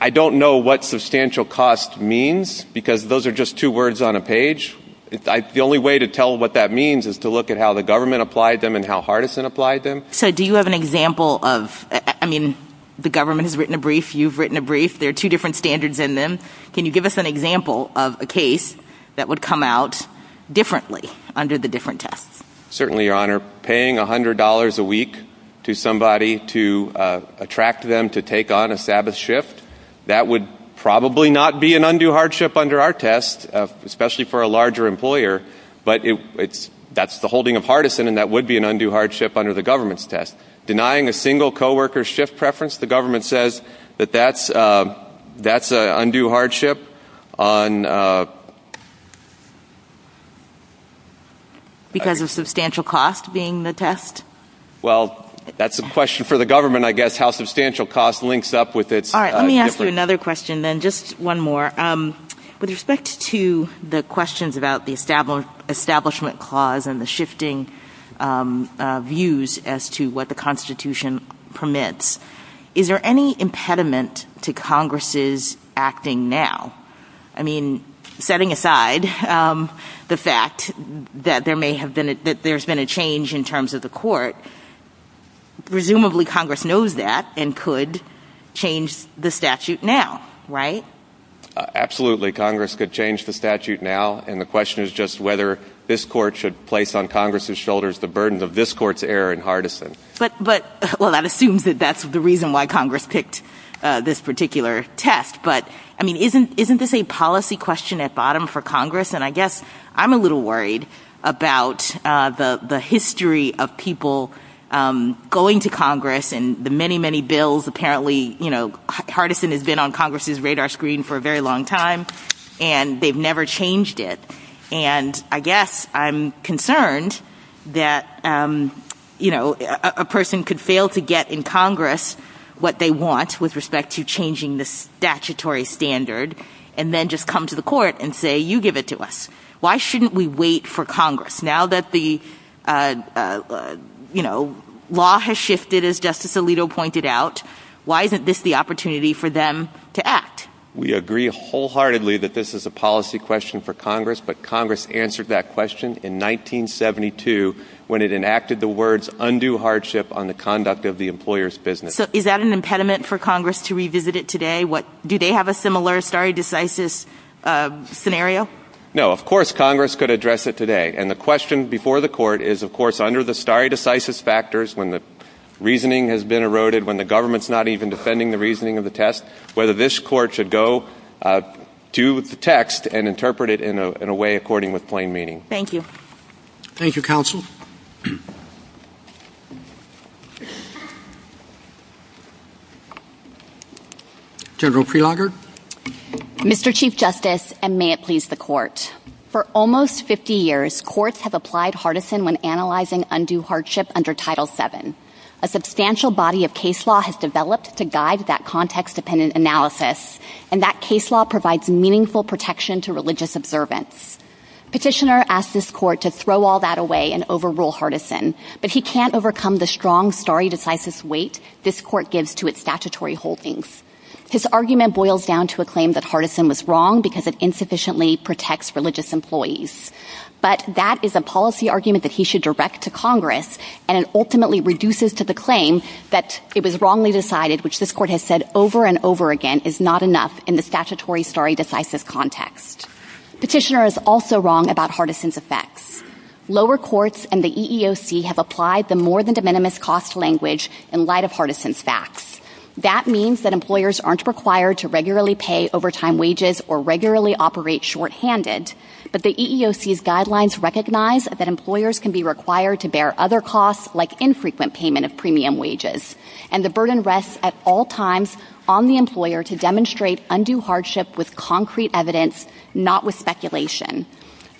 I don't know what substantial cost means because those are just two words on a page. The only way to tell what that means is to look at how the government applied them and how Hardison applied them. So do you have an example of, I mean, the government has written a brief. You've written a brief. There are two different standards in them. Can you give us an example of a case that would come out differently under the different tests? Certainly, Your Honor. Paying $100 a week to somebody to attract them to take on a Sabbath shift, that would probably not be an undue hardship under our test, especially for a larger employer. But that's the holding of Hardison, and that would be an undue hardship under the government's test. Denying a single co-worker's shift preference, the government says that that's an undue hardship. Because of substantial cost being the test? Well, that's a question for the government, I guess, how substantial cost links up with it. All right. Let me ask you another question then, just one more. With respect to the questions about the establishment clause and the shifting views as to what the Constitution permits, is there any impediment to Congress's acting now? I mean, setting aside the fact that there's been a change in terms of the court, presumably Congress knows that and could change the statute now, right? Absolutely. Congress could change the statute now. And the question is just whether this court should place on Congress's shoulders the burden of this court's error in Hardison. Well, that assumes that that's the reason why Congress picked this particular test. But, I mean, isn't this a policy question at bottom for Congress? And I guess I'm a little worried about the history of people going to Congress and the many, many bills. Apparently, you know, Hardison has been on Congress's radar screen for a very long time and they've never changed it. And I guess I'm concerned that, you know, a person could fail to get in Congress what they want with respect to changing the statutory standard and then just come to the court and say, you give it to us. Why shouldn't we wait for Congress? Now that the, you know, law has shifted, as Justice Alito pointed out, why isn't this the opportunity for them to act? We agree wholeheartedly that this is a policy question for Congress, but Congress answered that question in 1972 when it enacted the words, undo hardship on the conduct of the employer's business. So is that an impediment for Congress to revisit it today? Do they have a similar stare decisis scenario? No, of course Congress could address it today. And the question before the court is, of course, under the stare decisis factors, when the reasoning has been eroded, when the government's not even defending the reasoning of the test, whether this court should go to the text and interpret it in a way according with plain meaning. Thank you. Thank you, counsel. General Prelogar. Mr. Chief Justice, and may it please the court. For almost 50 years, courts have applied Hardison when analyzing undue hardship under Title VII. A substantial body of case law has developed to guide that context-dependent analysis, and that case law provides meaningful protection to religious observance. Petitioner asked this court to throw all that away and overrule Hardison, but he can't overcome the strong stare decisis weight this court gives to its statutory holdings. His argument boils down to a claim that Hardison was wrong because it insufficiently protects religious employees. But that is a policy argument that he should direct to Congress, and it ultimately reduces to the claim that it was wrongly decided, which this court has said over and over again is not enough in the statutory stare decisis context. Petitioner is also wrong about Hardison's effects. Lower courts and the EEOC have applied the more than de minimis cost language in light of Hardison's facts. That means that employers aren't required to regularly pay overtime wages or regularly operate shorthanded, but the EEOC's guidelines recognize that employers can be required to bear other costs like infrequent payment of premium wages, and the burden rests at all times on the employer to demonstrate undue hardship with concrete evidence, not with speculation.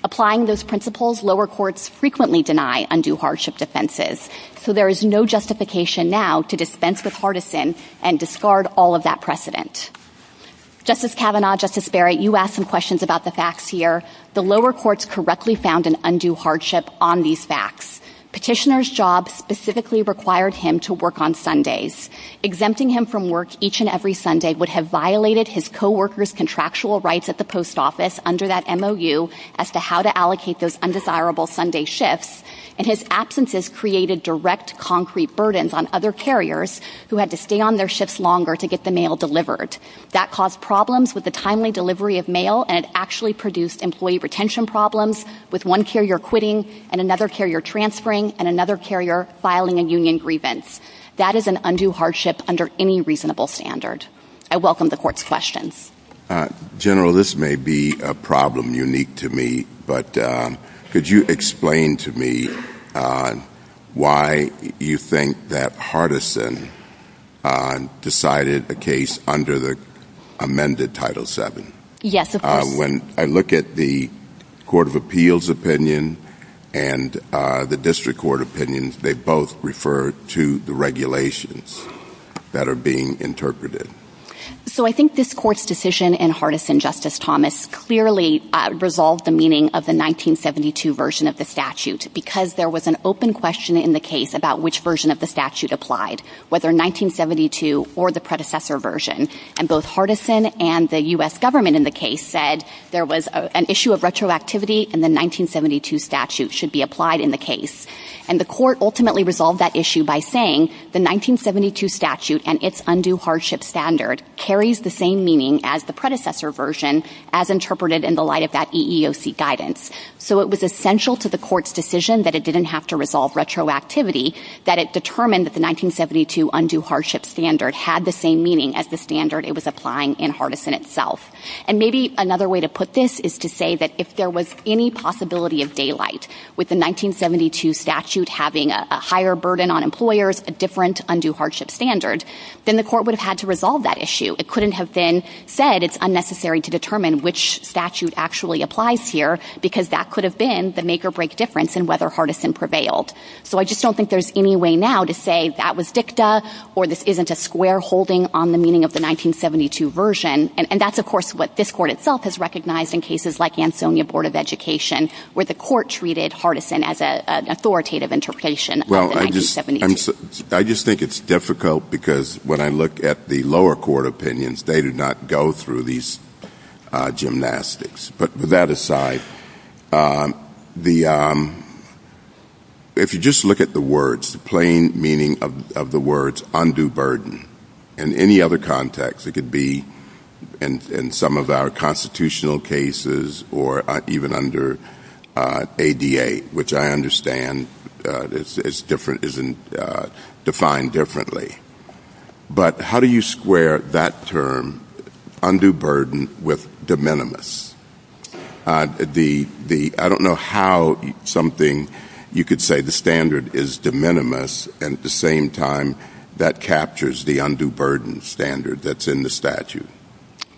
Applying those principles, lower courts frequently deny undue hardship defenses, so there is no justification now to dispense with Hardison and discard all of that precedent. Justice Kavanaugh, Justice Barry, you asked some questions about the facts here. The lower courts correctly found an undue hardship on these facts. Petitioner's job specifically required him to work on Sundays. Exempting him from work each and every Sunday would have violated his co-workers' contractual rights at the post office under that MOU as to how to allocate those undesirable Sunday shifts, and his absences created direct concrete burdens on other carriers who had to stay on their shifts longer to get the mail delivered. That caused problems with the timely delivery of mail and it actually produced employee retention problems with one carrier quitting and another carrier transferring and another carrier filing a union grievance. That is an undue hardship under any reasonable standard. I welcome the court's questions. General, this may be a problem unique to me, but could you explain to me why you think that Hardison decided a case under the amended Title VII? Yes, of course. When I look at the Court of Appeals opinion and the District Court opinions, they both refer to the regulations that are being interpreted. I think this court's decision in Hardison, Justice Thomas, clearly resolved the meaning of the 1972 version of the statute because there was an open question in the case about which version of the statute applied, whether 1972 or the predecessor version. Both Hardison and the U.S. government in the case said there was an issue of retroactivity and the 1972 statute should be applied in the case. And the court ultimately resolved that issue by saying the 1972 statute and its undue hardship standard carries the same meaning as the predecessor version as interpreted in the light of that EEOC guidance. So it was essential to the court's decision that it didn't have to resolve retroactivity, that it determined that the 1972 undue hardship standard had the same meaning as the standard it was applying in Hardison itself. And maybe another way to put this is to say that if there was any possibility of daylight with the 1972 statute having a higher burden on employers, a different undue hardship standard, then the court would have had to resolve that issue. It couldn't have been said it's unnecessary to determine which statute actually applies here because that could have been the make or break difference in whether Hardison prevailed. So I just don't think there's any way now to say that was dicta or this isn't a square holding on the meaning of the 1972 version. And that's, of course, what this court itself has recognized in cases like Ansonia Board of Education where the court treated Hardison as an authoritative interpretation of the 1972. Well, I just think it's difficult because when I look at the lower court opinions, they do not go through these gymnastics. But with that aside, if you just look at the words, the plain meaning of the words undue burden, in any other context, it could be in some of our constitutional cases or even under ADA, which I understand is defined differently. But how do you square that term, undue burden, with de minimis? I don't know how something you could say the standard is de minimis and at the same time that captures the undue burden standard that's in the statute.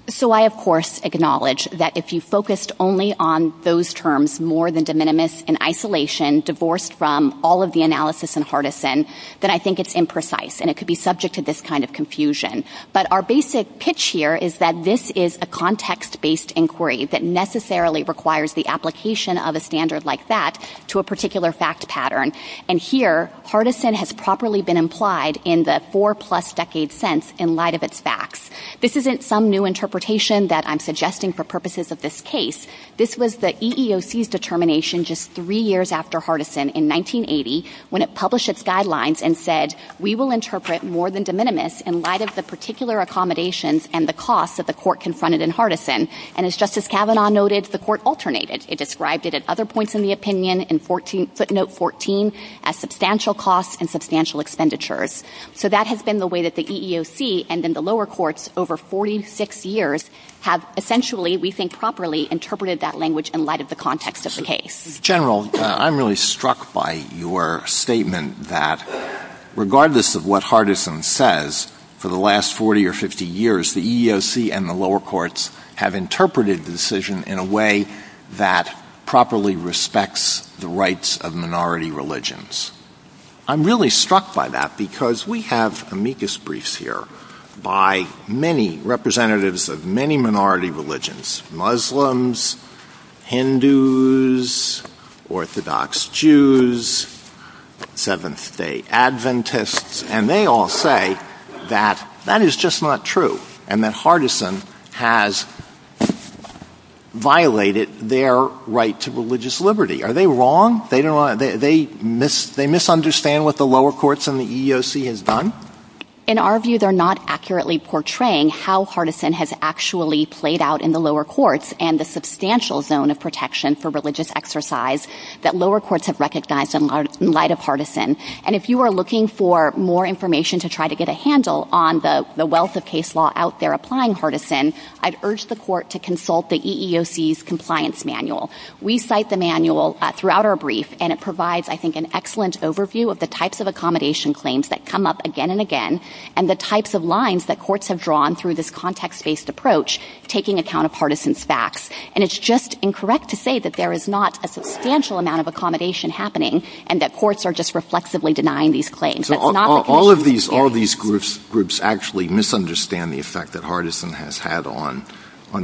So I, of course, acknowledge that if you focused only on those terms more than de minimis in isolation, divorced from all of the analysis in Hardison, then I think it's imprecise and it could be subject to this kind of confusion. But our basic pitch here is that this is a context-based inquiry that necessarily requires the application of a standard like that to a particular fact pattern. And here, Hardison has properly been implied in the four-plus decade sense in light of its facts. This isn't some new interpretation that I'm suggesting for purposes of this case. This was the EEOC's determination just three years after Hardison in 1980 when it published its guidelines and said, we will interpret more than de minimis in light of the particular accommodations and the costs that the court confronted in Hardison. And as Justice Kavanaugh noted, the court alternated. It described it at other points in the opinion, in footnote 14, as substantial costs and substantial expenditures. So that has been the way that the EEOC and then the lower courts over 46 years have essentially, we think properly, interpreted that language in light of the context of the case. General, I'm really struck by your statement that regardless of what Hardison says, for the last 40 or 50 years, the EEOC and the lower courts have interpreted the decision in a way that properly respects the rights of minority religions. I'm really struck by that because we have amicus briefs here by many representatives of many minority religions, Muslims, Hindus, Orthodox Jews, Seventh-day Adventists, and they all say that that is just not true and that Hardison has violated their right to religious liberty. Are they wrong? They misunderstand what the lower courts and the EEOC has done? In our view, they're not accurately portraying how Hardison has actually played out in the lower courts and the substantial zone of protection for religious exercise that lower courts have recognized in light of Hardison. And if you are looking for more information to try to get a handle on the wealth of case law out there applying Hardison, I'd urge the court to consult the EEOC's compliance manual. We cite the manual throughout our brief, and it provides, I think, an excellent overview of the types of accommodation claims that come up again and again and the types of lines that courts have drawn through this context-based approach taking account of Hardison's facts. And it's just incorrect to say that there is not a substantial amount of accommodation happening and that courts are just reflexively denying these claims. All of these groups actually misunderstand the effect that Hardison has had on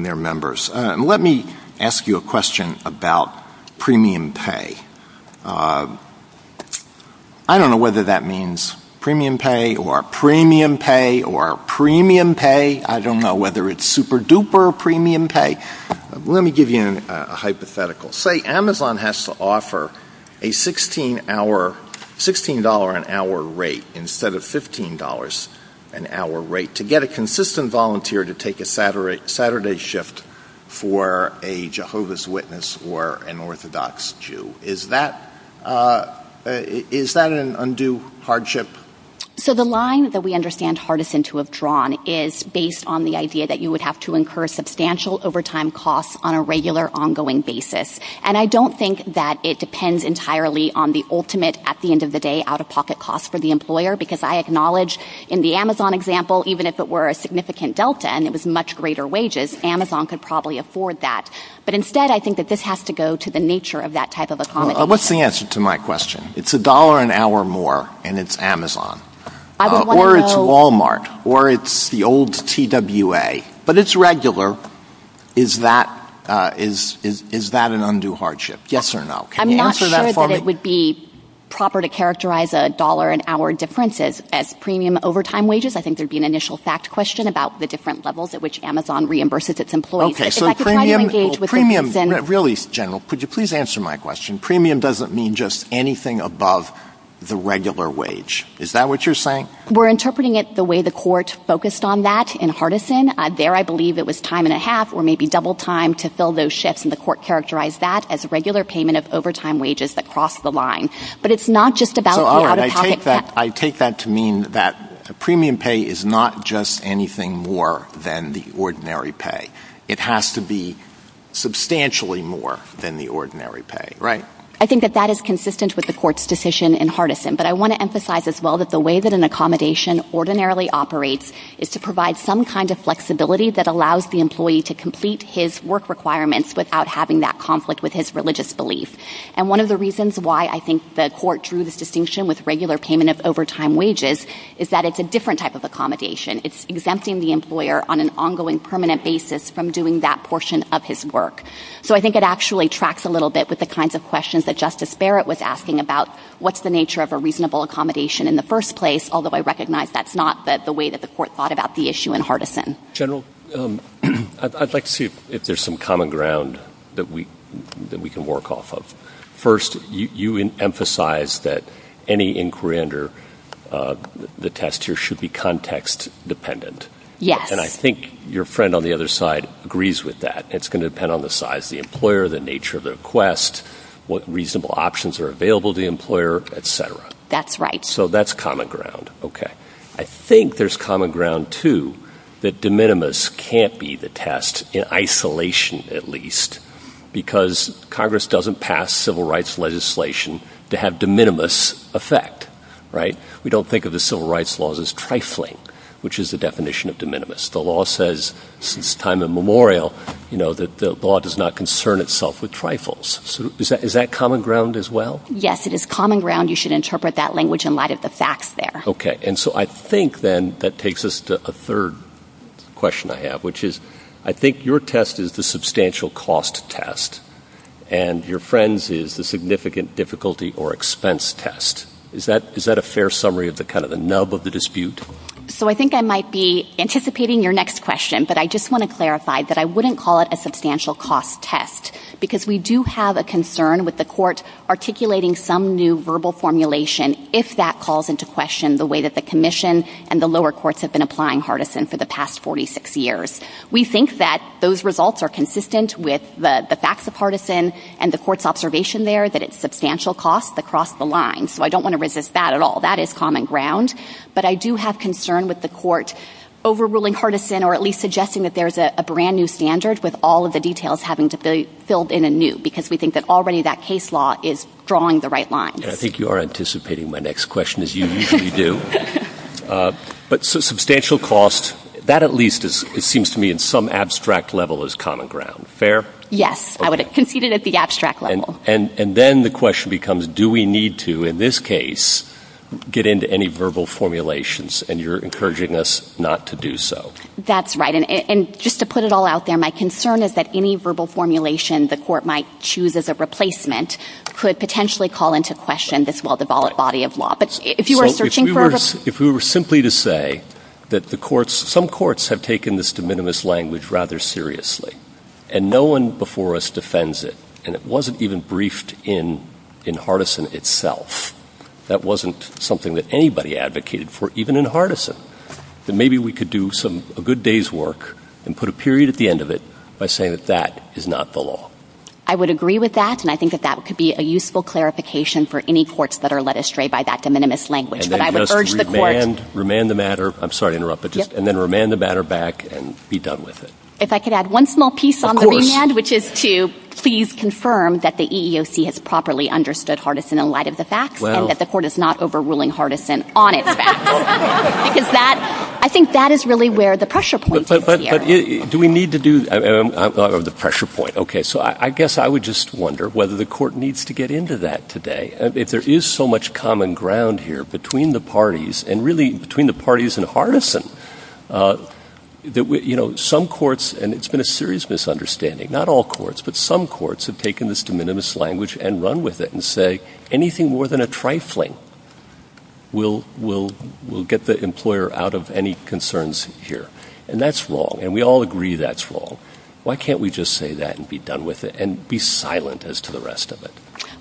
their members. Let me ask you a question about premium pay. I don't know whether that means premium pay or premium pay or premium pay. I don't know whether it's super duper premium pay. Let me give you a hypothetical. Say Amazon has to offer a $16 an hour rate instead of $15 an hour rate to get a consistent volunteer to take a Saturday shift for a Jehovah's Witness or an Orthodox Jew. Is that an undue hardship? So the line that we understand Hardison to have drawn is based on the idea that you would have to incur substantial overtime costs on a regular ongoing basis. And I don't think that it depends entirely on the ultimate, at the end of the day, out-of-pocket cost for the employer because I acknowledge in the Amazon example, even if it were a significant delta and it was much greater wages, Amazon could probably afford that. But instead, I think that this has to go to the nature of that type of accommodation. What's the answer to my question? It's $1 an hour more and it's Amazon. Or it's Walmart or it's the old TWA. But it's regular. Is that an undue hardship? Yes or no? I'm not sure that it would be proper to characterize $1 an hour differences as premium overtime wages. I think there'd be an initial fact question about the different levels at which Amazon reimburses its employees. Really, General, could you please answer my question? Premium doesn't mean just anything above the regular wage. Is that what you're saying? We're interpreting it the way the court focused on that in Hardison. There, I believe it was time and a half or maybe double time to fill those shifts, and the court characterized that as a regular payment of overtime wages that crossed the line. But it's not just about the out-of-pocket cost. I take that to mean that premium pay is not just anything more than the ordinary pay. It has to be substantially more than the ordinary pay, right? I think that that is consistent with the court's decision in Hardison. But I want to emphasize as well that the way that an accommodation ordinarily operates is to provide some kind of flexibility that allows the employee to complete his work requirements without having that conflict with his religious beliefs. And one of the reasons why I think the court drew this distinction with regular payment of overtime wages is that it's a different type of accommodation. It's exempting the employer on an ongoing, permanent basis from doing that portion of his work. So I think it actually tracks a little bit with the kinds of questions that Justice Barrett was asking about what's the nature of a reasonable accommodation in the first place, although I recognize that's not the way that the court thought about the issue in Hardison. General, I'd like to see if there's some common ground that we can work off of. First, you emphasize that any inquiry under the test here should be context-dependent. Yes. And I think your friend on the other side agrees with that. It's going to depend on the size of the employer, the nature of the request, what reasonable options are available to the employer, et cetera. That's right. So that's common ground. Okay. I think there's common ground, too, that de minimis can't be the test, in isolation at least, because Congress doesn't pass civil rights legislation to have de minimis effect. We don't think of the civil rights laws as trifling, which is the definition of de minimis. The law says since time immemorial that the law does not concern itself with trifles. Is that common ground as well? Yes, it is common ground. You should interpret that language in light of the facts there. Okay. And so I think, then, that takes us to a third question I have, which is I think your test is the substantial cost test and your friend's is the significant difficulty or expense test. Is that a fair summary of kind of the nub of the dispute? So I think I might be anticipating your next question, but I just want to clarify that I wouldn't call it a substantial cost test because we do have a concern with the court articulating some new verbal formulation if that calls into question the way that the commission and the lower courts have been applying Hardison for the past 46 years. We think that those results are consistent with the facts of Hardison and the court's observation there that it's substantial cost across the line. So I don't want to resist that at all. That is common ground. But I do have concern with the court overruling Hardison or at least suggesting that there's a brand-new standard with all of the details having to be filled in anew because we think that already that case law is drawing the right line. I think you are anticipating my next question, as you usually do. But substantial cost, that at least, it seems to me, in some abstract level is common ground. Fair? Yes. I would have conceded at the abstract level. And then the question becomes, do we need to, in this case, get into any verbal formulations, and you're encouraging us not to do so. That's right. And just to put it all out there, my concern is that any verbal formulation the court might choose as a replacement could potentially call into question this well-devolved body of law. But if you were searching for a verbal formulation. If we were simply to say that the courts, some courts have taken this de minimis language rather seriously, and no one before us defends it, and it wasn't even briefed in Hardison itself. That wasn't something that anybody advocated for, even in Hardison. Then maybe we could do a good day's work and put a period at the end of it by saying that that is not the law. I would agree with that, and I think that that could be a useful clarification for any courts that are led astray by that de minimis language. But I would urge the court. Remand the matter. I'm sorry to interrupt. And then remand the matter back and be done with it. If I could add one small piece on the remand, which is to please confirm that the EEOC has properly understood Hardison in light of the facts, and that the court is not overruling Hardison on its facts. I think that is really where the pressure point is. Do we need to do the pressure point? Okay, so I guess I would just wonder whether the court needs to get into that today. If there is so much common ground here between the parties, and really between the parties in Hardison, some courts, and it's been a serious misunderstanding, not all courts, but some courts have taken this de minimis language and run with it and say anything more than a trifling will get the employer out of any concerns here. And that's wrong. And we all agree that's wrong. Why can't we just say that and be done with it and be silent as to the rest of it?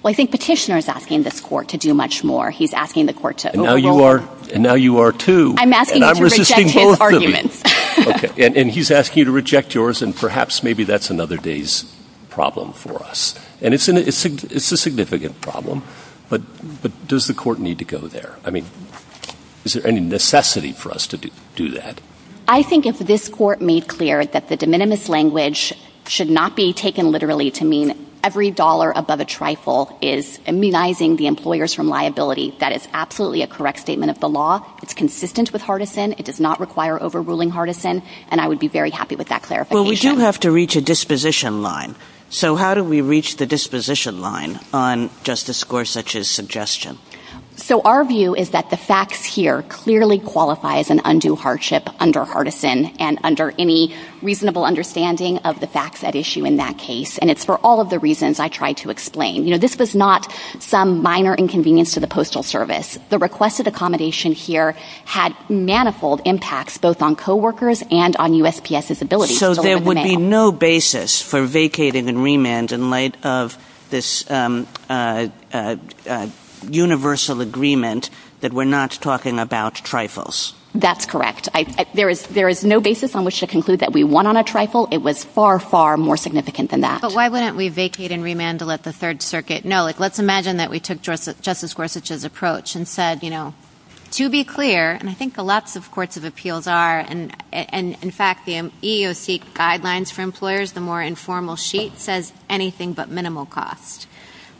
Well, I think Petitioner is asking this court to do much more. He's asking the court to overrule. And now you are too. I'm asking you to reject his argument. Okay, and he's asking you to reject yours, and perhaps maybe that's another day's problem for us. And it's a significant problem. But does the court need to go there? I mean, is there any necessity for us to do that? I think if this court made clear that the de minimis language should not be taken literally to mean every dollar above a trifle is immunizing the employers from liability, that is absolutely a correct statement of the law. It's consistent with Hardison. It does not require overruling Hardison. And I would be very happy with that clarification. Well, we do have to reach a disposition line. So how do we reach the disposition line on Justice Gorsuch's suggestion? So our view is that the facts here clearly qualify as an undue hardship under Hardison and under any reasonable understanding of the facts at issue in that case. And it's for all of the reasons I tried to explain. You know, this was not some minor inconvenience to the Postal Service. The request of accommodation here had manifold impacts both on coworkers and on USPS's ability. So there would be no basis for vacating and remand in light of this universal agreement that we're not talking about trifles? That's correct. There is no basis on which to conclude that we won on a trifle. It was far, far more significant than that. But why wouldn't we vacate and remand to let the Third Circuit know? Like, let's imagine that we took Justice Gorsuch's approach and said, you know, to be clear, and I think a lot of courts of appeals are, and in fact, the EEOC guidelines for employers, the more informal sheet, says anything but minimal cost.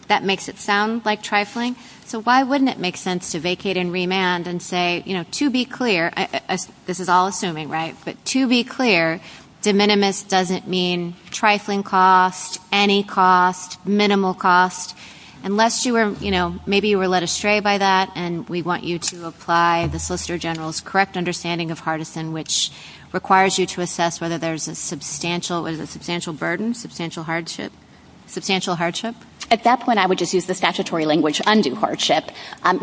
That makes it sound like trifling. So why wouldn't it make sense to vacate and remand and say, you know, to be clear, this is all assuming, right? But to be clear, de minimis doesn't mean trifling cost, any cost, minimal cost, unless you were, you know, maybe you were led astray by that and we want you to apply the Solicitor General's correct understanding of hardison, which requires you to assess whether there's a substantial burden, substantial hardship. At that point, I would just use the statutory language, undue hardship.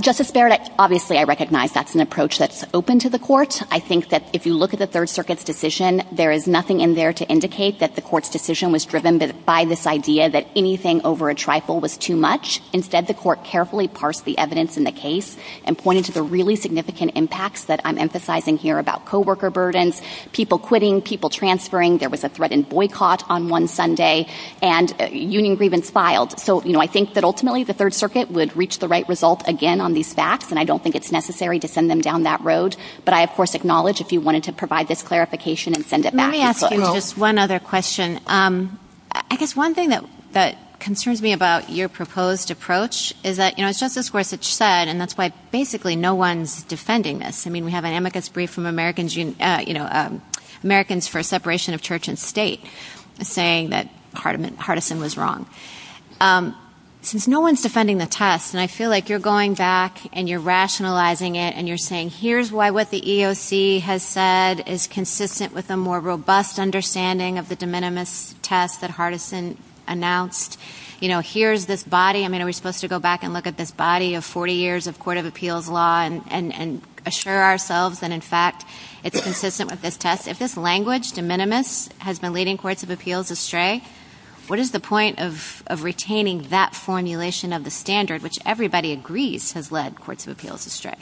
Justice Barrett, obviously, I recognize that's an approach that's open to the court. I think that if you look at the Third Circuit's decision, there is nothing in there to indicate that the court's decision was driven by this idea that anything over a trifle was too much. Instead, the court carefully parsed the evidence in the case and pointed to the really significant impacts that I'm emphasizing here about co-worker burdens, people quitting, people transferring, there was a threatened boycott on one Sunday, and union grievance filed. So, you know, I think that ultimately, the Third Circuit would reach the right result again on these facts, and I don't think it's necessary to send them down that road. But I, of course, acknowledge if you wanted to provide this clarification and send it back. Let me ask you just one other question. I guess one thing that concerns me about your proposed approach is that, you know, Justice Gorsuch said, and that's why basically no one's defending this. I mean, we have an amicus brief from Americans, you know, Americans for Separation of Church and State saying that Hardison was wrong. Since no one's defending the test, and I feel like you're going back and you're rationalizing it and you're saying, here's why what the EOC has said is consistent with a more robust understanding of the de minimis test that Hardison announced. You know, here's this body. I mean, are we supposed to go back and look at this body of 40 years of court of appeals law and assure ourselves that, in fact, it's consistent with this test? If this language, de minimis, has been leading courts of appeals astray, what is the point of retaining that formulation of the standard, which everybody agrees has led courts of appeals astray?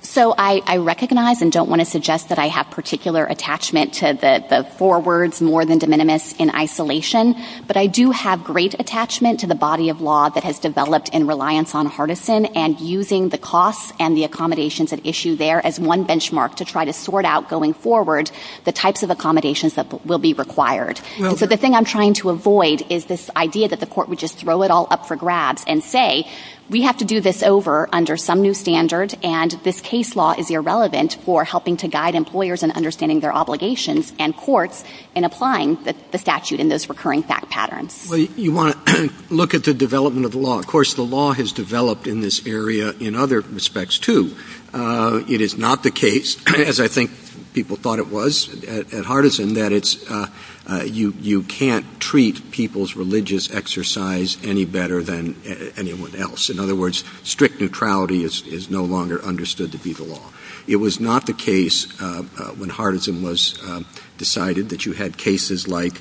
So I recognize and don't want to suggest that I have particular attachment to the four words more than de minimis in isolation, but I do have great attachment to the body of law that has developed in reliance on Hardison and using the costs and the accommodations at issue there as one benchmark to try to sort out going forward the types of accommodations that will be required. So the thing I'm trying to avoid is this idea that the court would just throw it all up for grabs and say, we have to do this over under some new standard, and this case law is irrelevant for helping to guide employers in understanding their obligations and courts in applying the statute in those recurring fact patterns. Well, you want to look at the development of the law. Of course, the law has developed in this area in other respects, too. It is not the case, as I think people thought it was at Hardison, that you can't treat people's religious exercise any better than anyone else. In other words, strict neutrality is no longer understood to be the law. It was not the case when Hardison was decided that you had cases like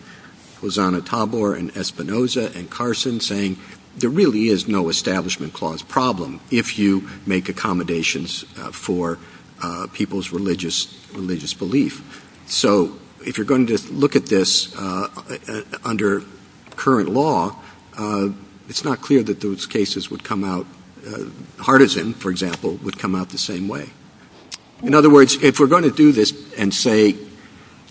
Hosanna Tabor and Espinoza and Carson saying there really is no establishment clause problem if you make accommodations for people's religious belief. So if you're going to look at this under current law, it's not clear that those cases would come out... Hardison, for example, would come out the same way. In other words, if we're going to do this and say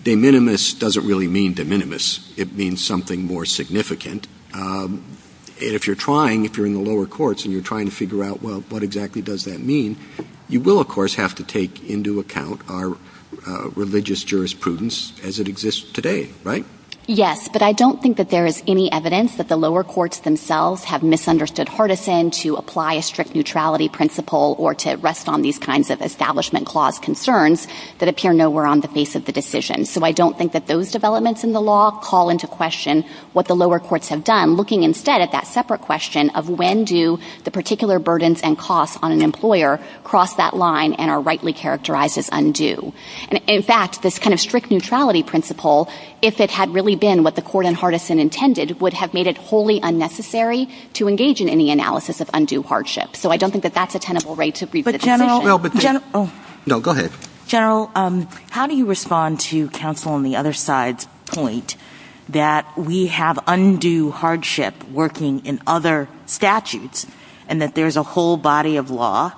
de minimis doesn't really mean de minimis. It means something more significant. If you're trying, if you're in the lower courts and you're trying to figure out, well, what exactly does that mean, you will, of course, have to take into account our religious jurisprudence as it exists today, right? Yes, but I don't think that there is any evidence that the lower courts themselves have misunderstood Hardison to apply a strict neutrality principle or to rest on these kinds of establishment clause concerns that appear nowhere on the face of the decision. So I don't think that those developments in the law call into question what the lower courts have done, looking instead at that separate question of when do the particular burdens and costs on an employer cross that line and are rightly characterized as undue. And, in fact, this kind of strict neutrality principle, if it had really been what the court in Hardison intended, would have made it wholly unnecessary to engage in any analysis of undue hardship. So I don't think that that's a tenable right to... No, go ahead. General, how do you respond to counsel on the other side's point that we have undue hardship working in other statutes and that there's a whole body of law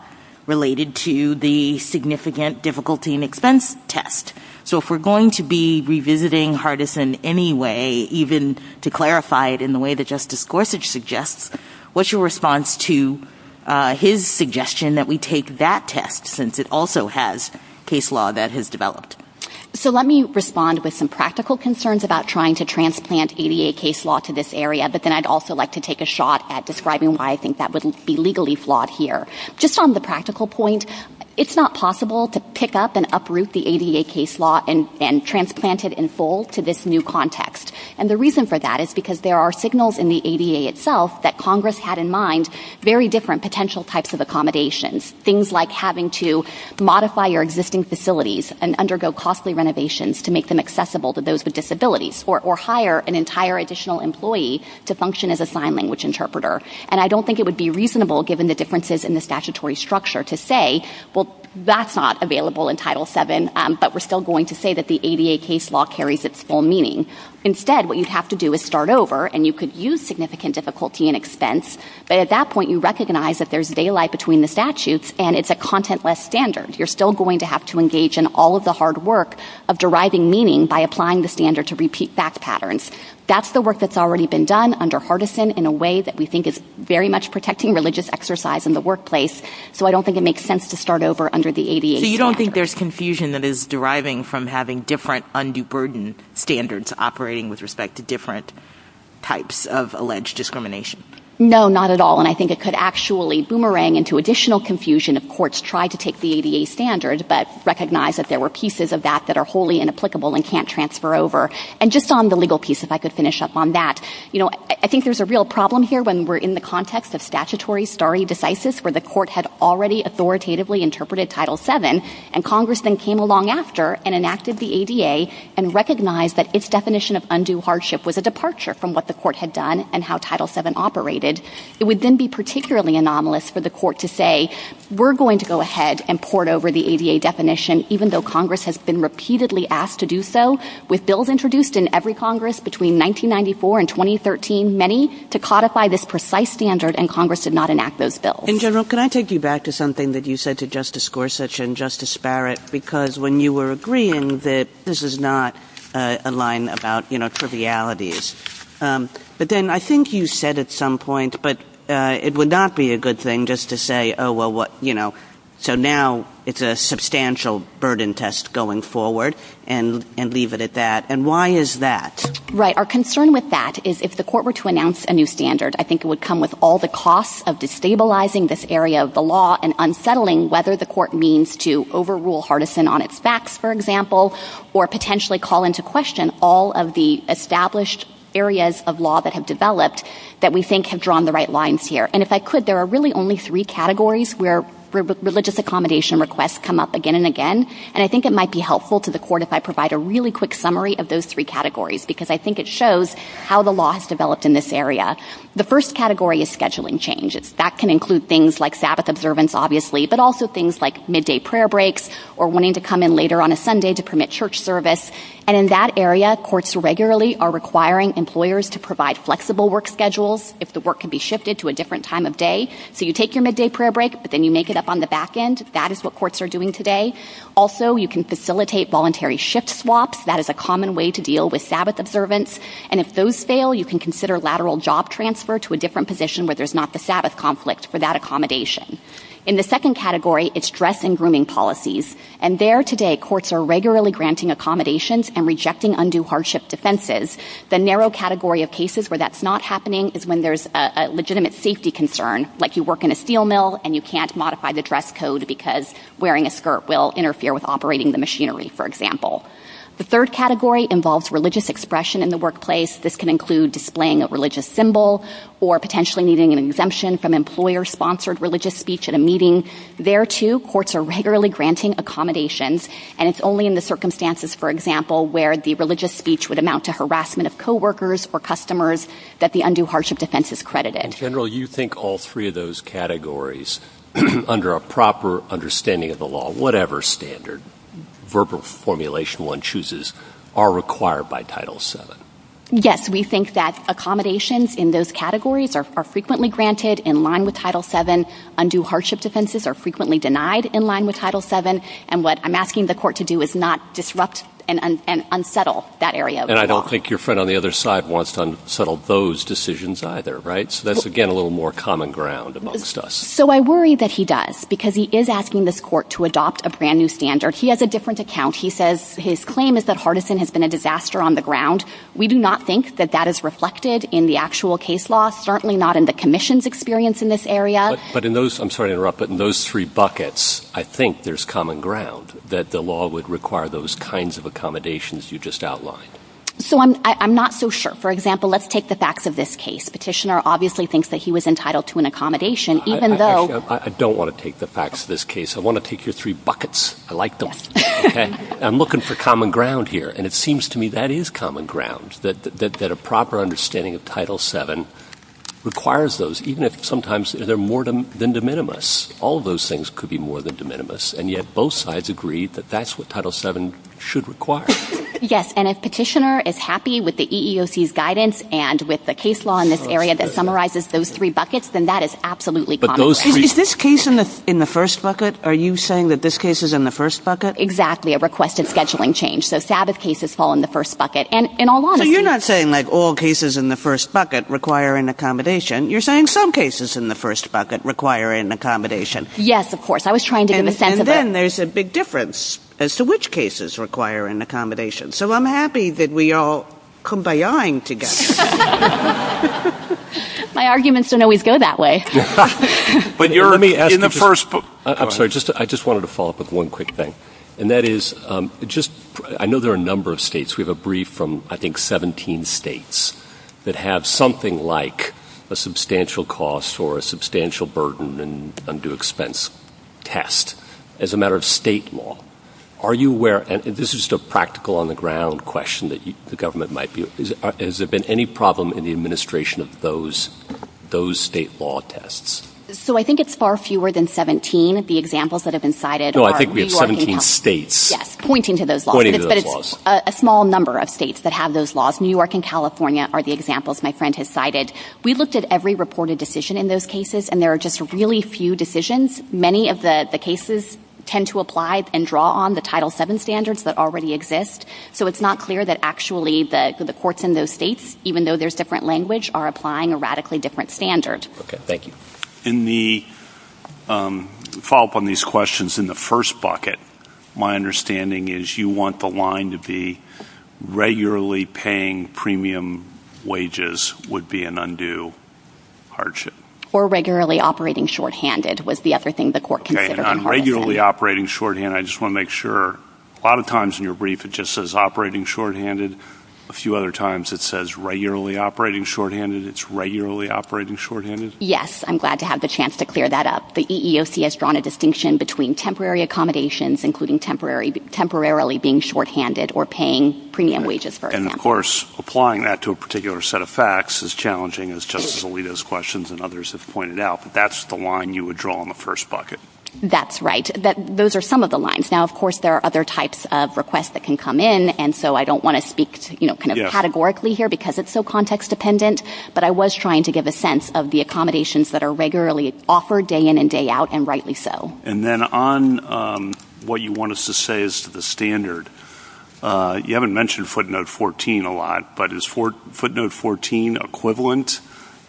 related to the significant difficulty in expense test? So if we're going to be revisiting Hardison anyway, even to clarify it in the way that Justice Gorsuch suggests, what's your response to his suggestion that we take that test since it also has case law that has developed? So let me respond with some practical concerns about trying to transplant ADA case law to this area, but then I'd also like to take a shot at describing why I think that would be legally flawed here. Just on the practical point, it's not possible to pick up and uproot the ADA case law and transplant it in full to this new context. And the reason for that is because there are signals in the ADA itself that Congress had in mind for very different potential types of accommodations, things like having to modify your existing facilities and undergo costly renovations to make them accessible to those with disabilities or hire an entire additional employee to function as a sign language interpreter. And I don't think it would be reasonable, given the differences in the statutory structure, to say, well, that's not available in Title VII, but we're still going to say that the ADA case law carries its full meaning. Instead, what you'd have to do is start over and you could use significant difficulty in expense, but at that point you recognize that there's daylight between the statutes and it's a content-less standard. You're still going to have to engage in all of the hard work of deriving meaning by applying the standard to repeat back patterns. That's the work that's already been done under Hardison in a way that we think is very much protecting religious exercise in the workplace, so I don't think it makes sense to start over under the ADA. So you don't think there's confusion that is deriving from having different undue burden standards operating with respect to different types of alleged discrimination? No, not at all, and I think it could actually boomerang into additional confusion if courts try to take the ADA standards but recognize that there were pieces of that that are wholly inapplicable and can't transfer over. And just on the legal piece, if I could finish up on that, I think there's a real problem here when we're in the context of statutory stare decisis where the court had already authoritatively interpreted Title VII and Congress then came along after and enacted the ADA and recognized that its definition of undue hardship was a departure from what the court had done and how Title VII operated. It would then be particularly anomalous for the court to say, we're going to go ahead and port over the ADA definition even though Congress has been repeatedly asked to do so with bills introduced in every Congress between 1994 and 2013, many to codify this precise standard, and Congress did not enact those bills. In general, can I take you back to something that you said to Justice Gorsuch and Justice Barrett because when you were agreeing that this is not a line about, you know, trivialities. But then I think you said at some point, but it would not be a good thing just to say, oh, well, what, you know, so now it's a substantial burden test going forward and leave it at that. And why is that? Right. Our concern with that is if the court were to announce a new standard, I think it would come with all the costs of destabilizing this area of the law and unsettling whether the court means to overrule Hardison on its backs, for example, or potentially call into question all of the established areas of law that have developed that we think have drawn the right lines here. And if I could, there are really only three categories where religious accommodation requests come up again and again, and I think it might be helpful to the court if I provide a really quick summary of those three categories because I think it shows how the law has developed in this area. The first category is scheduling changes. That can include things like Sabbath observance, obviously, but also things like midday prayer breaks or wanting to come in later on a Sunday to permit church service. And in that area, courts regularly are requiring employers to provide flexible work schedules if the work can be shifted to a different time of day. So you take your midday prayer break, but then you make it up on the back end. That is what courts are doing today. Also, you can facilitate voluntary shift swaps. That is a common way to deal with Sabbath observance. And if those fail, you can consider lateral job transfer to a different position where there's not the Sabbath conflicts for that accommodation. In the second category, it's dress and grooming policies. And there today, courts are regularly granting accommodations and rejecting undue hardship defenses. The narrow category of cases where that's not happening is when there's a legitimate safety concern, like you work in a steel mill and you can't modify the dress code because wearing a skirt will interfere with operating the machinery, for example. The third category involves religious expression in the workplace. This can include displaying a religious symbol or potentially needing an exemption from employer-sponsored religious speech at a meeting. There, too, courts are regularly granting accommodations, and it's only in the circumstances, for example, where the religious speech would amount to harassment of coworkers or customers that the undue hardship defense is credited. And, General, you think all three of those categories, under a proper understanding of the law, whatever standard, verbal formulation one chooses, are required by Title VII? Yes. We think that accommodations in those categories are frequently granted in line with Title VII undue hardship defenses are frequently denied in line with Title VII, and what I'm asking the court to do is not disrupt and unsettle that area of the law. And I don't think your friend on the other side wants to unsettle those decisions either, right? So that's, again, a little more common ground amongst us. So I worry that he does, because he is asking this court to adopt a brand-new standard. He has a different account. He says his claim is that Hardison has been a disaster on the ground. We do not think that that is reflected in the actual case law, certainly not in the commission's experience in this area. But in those, I'm sorry to interrupt, but in those three buckets, I think there's common ground that the law would require those kinds of accommodations you just outlined. So I'm not so sure. For example, let's take the facts of this case. Petitioner obviously thinks that he was entitled to an accommodation, even though... I don't want to take the facts of this case. I want to take your three buckets. I like them. Okay? I'm looking for common ground here, and it seems to me that is common ground, that a proper understanding of Title VII requires those, even if sometimes they're more than de minimis. All those things could be more than de minimis, and yet both sides agree that that's what Title VII should require. Yes, and if Petitioner is happy with the EEOC's guidance and with the case law in this area that summarizes those three buckets, then that is absolutely common ground. Is this case in the first bucket? Are you saying that this case is in the first bucket? Exactly. A requested scheduling change. So Sabbath cases fall in the first bucket. You're not saying that all cases in the first bucket require an accommodation. You're saying some cases in the first bucket require an accommodation. Yes, of course. I was trying to give them a sense of that. And then there's a big difference as to which cases require an accommodation. So I'm happy that we're all kumbayaing together. My arguments didn't always go that way. I'm sorry. I just wanted to follow up with one quick thing, and that is I know there are a number of states. We have a brief from, I think, 17 states that have something like a substantial cost or a substantial burden and undue expense test as a matter of state law. Are you aware, and this is just a practical on-the-ground question that the government might be, has there been any problem in the administration of those state law tests? So I think it's far fewer than 17. The examples that have been cited are New York and California. No, I think we have 17 states. Yes, pointing to those laws. Pointing to those laws. But it's a small number of states that have those laws. New York and California are the examples my friend has cited. We looked at every reported decision in those cases, and there are just really few decisions. Many of the cases tend to apply and draw on the Title VII standards that already exist. So it's not clear that actually the courts in those states, even though there's different language, are applying a radically different standard. Okay, thank you. In the follow-up on these questions in the first bucket, my understanding is you want the line to be regularly paying premium wages would be an undue hardship. Or regularly operating shorthanded was the other thing the court considered. Okay, and on regularly operating shorthand, I just want to make sure. A lot of times in your brief it just says operating shorthanded. A few other times it says regularly operating shorthanded. It's regularly operating shorthanded? Yes, I'm glad to have the chance to clear that up. The EEOC has drawn a distinction between temporary accommodations, including temporarily being shorthanded or paying premium wages first. And, of course, applying that to a particular set of facts is challenging, as Justice Alito's questions and others have pointed out. But that's the line you would draw in the first bucket. That's right. Those are some of the lines. Now, of course, there are other types of requests that can come in, and so I don't want to speak kind of categorically here because it's so context-dependent. But I was trying to give a sense of the accommodations that are regularly offered day in and day out, and rightly so. And then on what you want us to say as to the standard, you haven't mentioned footnote 14 a lot, but is footnote 14 equivalent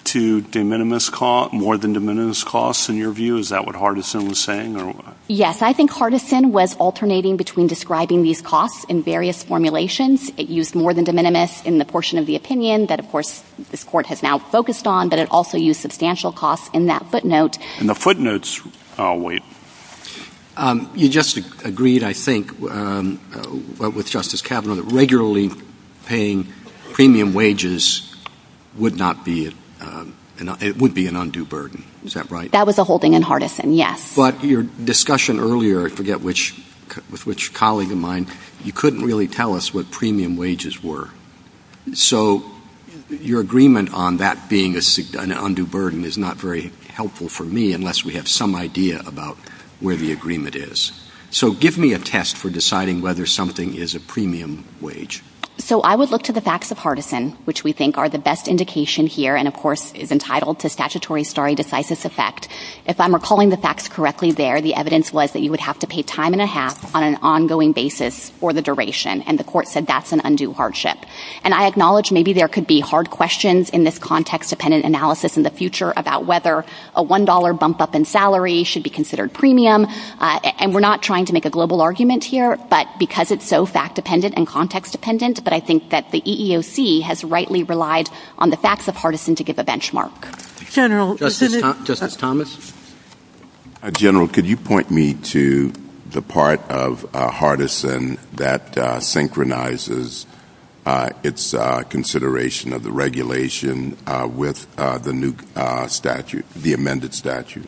to more than de minimis costs, in your view? Is that what Hardison was saying? Yes. I think Hardison was alternating between describing these costs in various formulations. It used more than de minimis in the portion of the opinion that, of course, this Court has now focused on, but it also used substantial costs in that footnote. In the footnotes? Oh, wait. You just agreed, I think, with Justice Kavanaugh that regularly paying premium wages would be an undue burden. Is that right? That was a holding in Hardison, yes. But your discussion earlier, I forget with which colleague of mine, you couldn't really tell us what premium wages were. So your agreement on that being an undue burden is not very helpful for me unless we have some idea about where the agreement is. So give me a test for deciding whether something is a premium wage. So I would look to the facts of Hardison, which we think are the best indication here, and of course is entitled to statutory stare decisis effect. If I'm recalling the facts correctly there, the evidence was that you would have to pay time and a half on an ongoing basis for the duration, and the court said that's an undue hardship. And I acknowledge maybe there could be hard questions in this context-dependent analysis in the future about whether a $1 bump-up in salary should be considered premium, and we're not trying to make a global argument here, but because it's so fact-dependent and context-dependent, but I think that the EEOC has rightly relied on the facts of Hardison to give a benchmark. Justice Thomas? General, could you point me to the part of Hardison that synchronizes its consideration of the regulation with the new statute, the amended statute?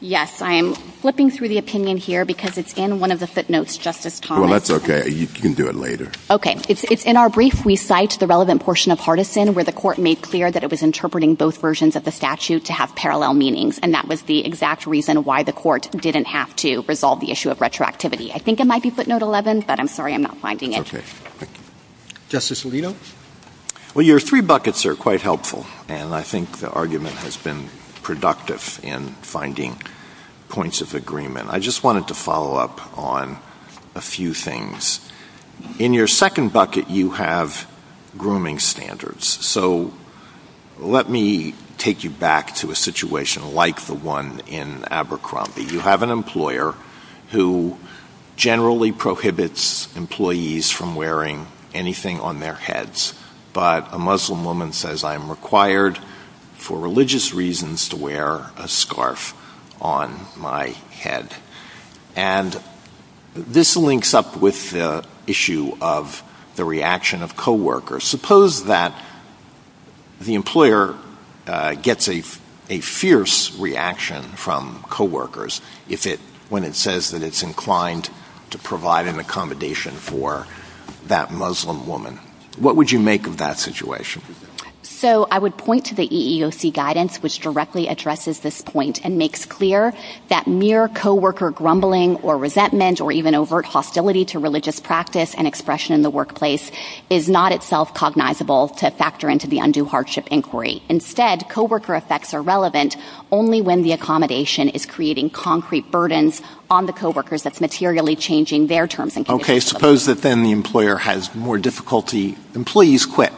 Yes. I am flipping through the opinion here because it's in one of the footnotes, Justice Thomas. Well, that's okay. You can do it later. Okay. In our brief, we cite the relevant portion of Hardison where the court made clear that it was interpreting both versions of the statute to have parallel meanings, and that was the exact reason why the court didn't have to resolve the issue of retroactivity. I think it might be footnote 11, but I'm sorry I'm not finding it. Okay. Justice Alito? Well, your three buckets are quite helpful, and I think the argument has been productive in finding points of agreement. I just wanted to follow up on a few things. In your second bucket, you have grooming standards. So let me take you back to a situation like the one in Abercrombie. You have an employer who generally prohibits employees from wearing anything on their heads, but a Muslim woman says, I'm required for religious reasons to wear a scarf on my head. And this links up with the issue of the reaction of coworkers. Suppose that the employer gets a fierce reaction from coworkers when it says that it's inclined to provide an accommodation for that Muslim woman. What would you make of that situation? So I would point to the EEOC guidance, which directly addresses this point and makes clear that mere coworker grumbling or resentment or even overt hostility to religious practice and expression in the workplace is not itself cognizable to factor into the undue hardship inquiry. Instead, coworker effects are relevant only when the accommodation is creating concrete burdens on the coworkers that's materially changing their terms and conditions. Okay, suppose that then the employer has more difficulty. Employees quit.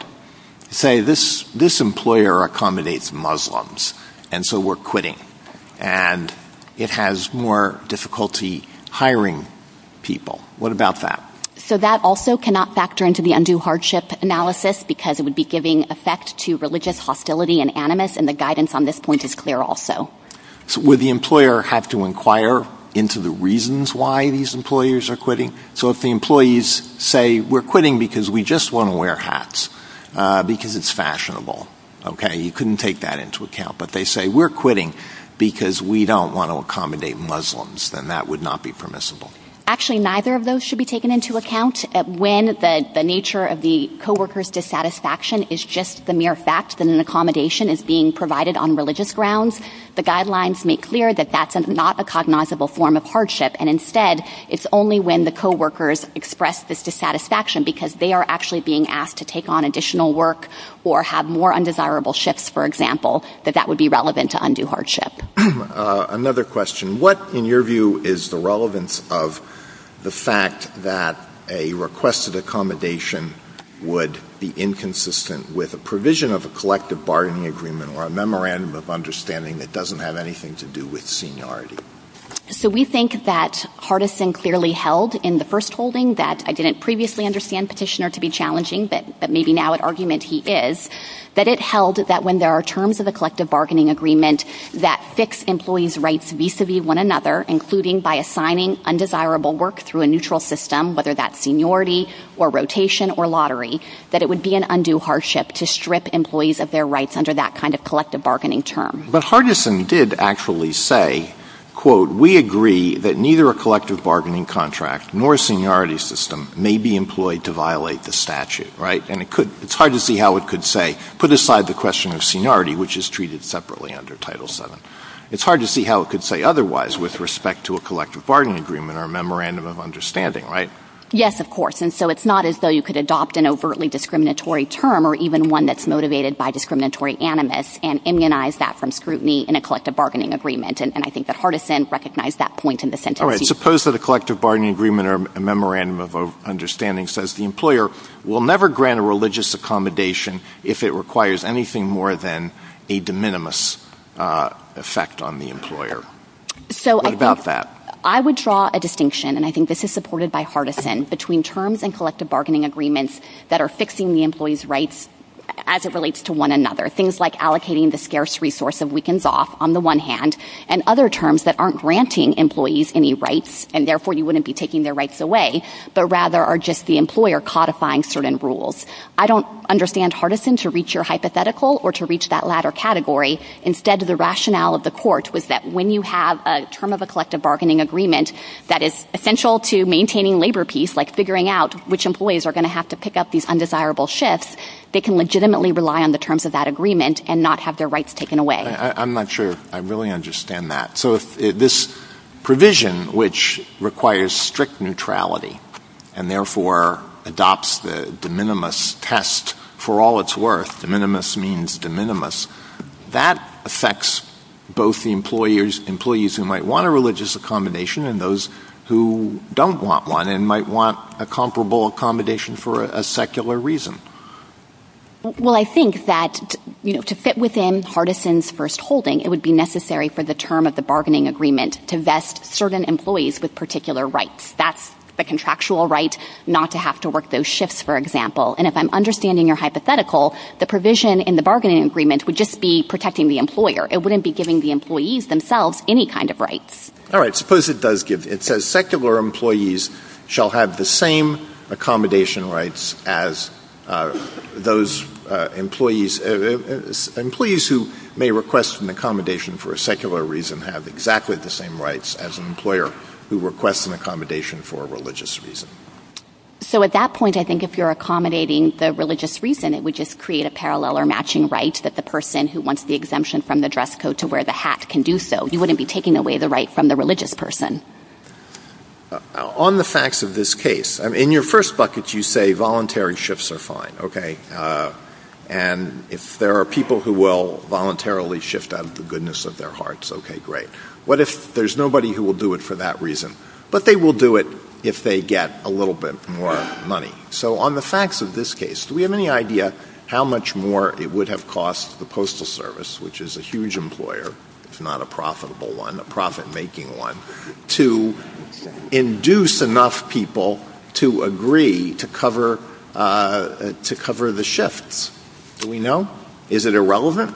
Say, this employer accommodates Muslims, and so we're quitting. And it has more difficulty hiring people. What about that? So that also cannot factor into the undue hardship analysis because it would be giving effect to religious hostility and animus, and the guidance on this point is clear also. Would the employer have to inquire into the reasons why these employers are quitting? So if the employees say, we're quitting because we just want to wear hats, because it's fashionable. Okay, you couldn't take that into account. But they say, we're quitting because we don't want to accommodate Muslims. Then that would not be permissible. Actually, neither of those should be taken into account. When the nature of the coworker's dissatisfaction is just the mere fact that an accommodation is being provided on religious grounds, the guidelines make clear that that's not a cognizable form of hardship. And instead, it's only when the coworkers express this dissatisfaction because they are actually being asked to take on additional work or have more undesirable shifts, for example, that that would be relevant to undue hardship. Another question. What, in your view, is the relevance of the fact that a requested accommodation would be inconsistent with a provision of a collective bargaining agreement or a memorandum of understanding that doesn't have anything to do with seniority? So we think that Hardison clearly held in the first holding that I didn't previously understand Petitioner to be challenging, but maybe now at argument he is, that it held that when there are terms of the collective bargaining agreement that fix employees' rights vis-a-vis one another, including by assigning undesirable work through a neutral system, whether that's seniority or rotation or lottery, that it would be an undue hardship to strip employees of their rights under that kind of collective bargaining term. But Hardison did actually say, quote, We agree that neither a collective bargaining contract nor a seniority system may be employed to violate the statute. Right? And it's hard to see how it could say, put aside the question of seniority, which is treated separately under Title VII, it's hard to see how it could say otherwise with respect to a collective bargaining agreement or a memorandum of understanding, right? Yes, of course. And so it's not as though you could adopt an overtly discriminatory term or even one that's motivated by discriminatory animus and immunize that from scrutiny in a collective bargaining agreement. And I think that Hardison recognized that point in this interpretation. All right, suppose that a collective bargaining agreement or a memorandum of understanding says the employer will never grant a religious accommodation if it requires anything more than a de minimis effect on the employer. What about that? I would draw a distinction, and I think this is supported by Hardison, between terms in collective bargaining agreements that are fixing the employee's rights as it relates to one another, things like allocating the scarce resource of weekends off, on the one hand, and other terms that aren't granting employees any rights and therefore you wouldn't be taking their rights away, but rather are just the employer codifying certain rules. I don't understand Hardison to reach your hypothetical or to reach that latter category. Instead, the rationale of the court was that when you have a term of a collective bargaining agreement that is essential to maintaining labor peace, like figuring out which employees are going to have to pick up these undesirable shifts, they can legitimately rely on the terms of that agreement and not have their rights taken away. I'm not sure I really understand that. So if this provision, which requires strict neutrality and therefore adopts the de minimis test for all its worth, de minimis means de minimis, that affects both the employees who might want a religious accommodation and those who don't want one and might want a comparable accommodation for a secular reason. Well, I think that, you know, to fit within Hardison's first holding, it would be necessary for the term of the bargaining agreement to vest certain employees with particular rights. That's the contractual right not to have to work those shifts, for example. And if I'm understanding your hypothetical, the provision in the bargaining agreement would just be protecting the employer. It wouldn't be giving the employees themselves any kind of rights. All right, suppose it does give... It says secular employees shall have the same accommodation rights as those employees... Employees who may request an accommodation for a secular reason have exactly the same rights as an employer who requests an accommodation for a religious reason. So at that point, I think if you're accommodating the religious reason, it would just create a parallel or matching right that the person who wants the exemption from the dress code to wear the hat can do so. You wouldn't be taking away the right from the religious person. On the facts of this case, in your first bucket, you say voluntary shifts are fine, okay? And if there are people who will voluntarily shift out of the goodness of their hearts, okay, great. What if there's nobody who will do it for that reason? But they will do it if they get a little bit more money. So on the facts of this case, do we have any idea how much more it would have cost the Postal Service, which is a huge employer, it's not a profitable one, a profit-making one, to induce enough people to agree to cover the shifts? Do we know? Is it irrelevant?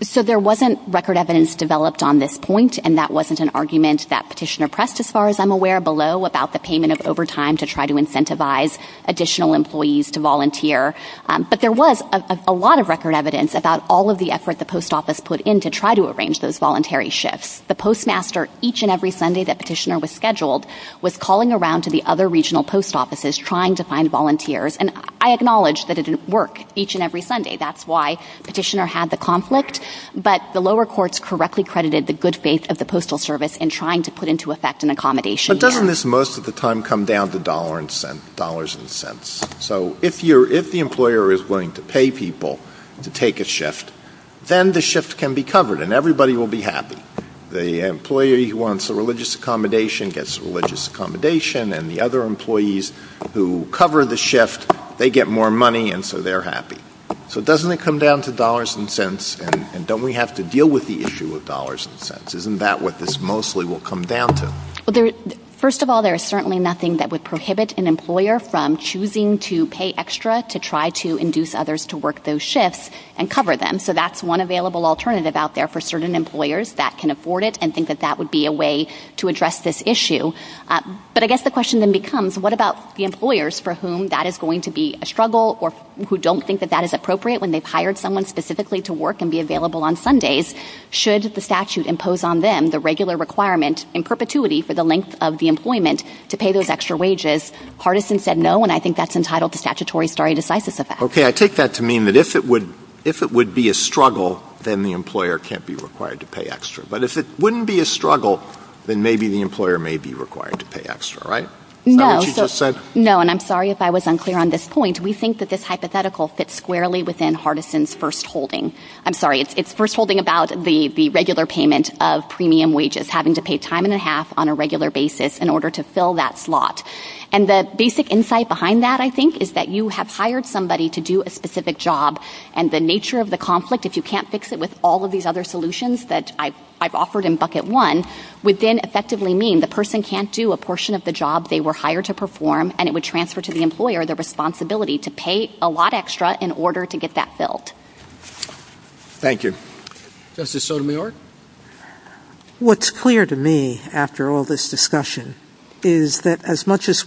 So there wasn't record evidence developed on this point, and that wasn't an argument that Petitioner pressed, as far as I'm aware, below about the payment of overtime to try to incentivize additional employees to volunteer. But there was a lot of record evidence about all of the effort the Post Office put in to try to arrange those voluntary shifts. The Postmaster, each and every Sunday that Petitioner was scheduled, was calling around to the other regional Post Offices trying to find volunteers, and I acknowledge that it didn't work each and every Sunday. That's why Petitioner had the conflict, but the lower courts correctly credited the good faith of the Postal Service in trying to put into effect an accommodation. But doesn't this most of the time come down to dollars and cents? So if the employer is willing to pay people to take a shift, then the shift can be covered, and everybody will be happy. The employee who wants a religious accommodation gets a religious accommodation, and the other employees who cover the shift, they get more money, and so they're happy. So doesn't it come down to dollars and cents, and don't we have to deal with the issue of dollars and cents? Isn't that what this mostly will come down to? First of all, there is certainly nothing that would prohibit an employer from choosing to pay extra to try to induce others to work those shifts and cover them. So that's one available alternative out there for certain employers that can afford it and think that that would be a way to address this issue. But I guess the question then becomes, what about the employers for whom that is going to be a struggle or who don't think that that is appropriate when they've hired someone specifically to work and be available on Sundays? Should the statute impose on them the regular requirement in perpetuity for the length of the employment to pay those extra wages? Hardison said no, and I think that's entitled to statutory stare decisis effect. Okay, I take that to mean that if it would be a struggle, then the employer can't be required to pay extra. But if it wouldn't be a struggle, then maybe the employer may be required to pay extra, right? No, and I'm sorry if I was unclear on this point. We think that this hypothetical fits squarely within Hardison's first holding. I'm sorry, it's first holding about the regular payment of premium wages, having to pay time and a half on a regular basis in order to fill that slot. And the basic insight behind that, I think, is that you have hired somebody to do a specific job and the nature of the conflict, if you can't fix it with all of these other solutions that I've offered in bucket one, would then effectively mean the person can't do a portion of the job they were hired to perform and it would transfer to the employer the responsibility to pay a lot extra in order to get that filled. Thank you. Justice Sotomayor? What's clear to me after all this discussion is that as much as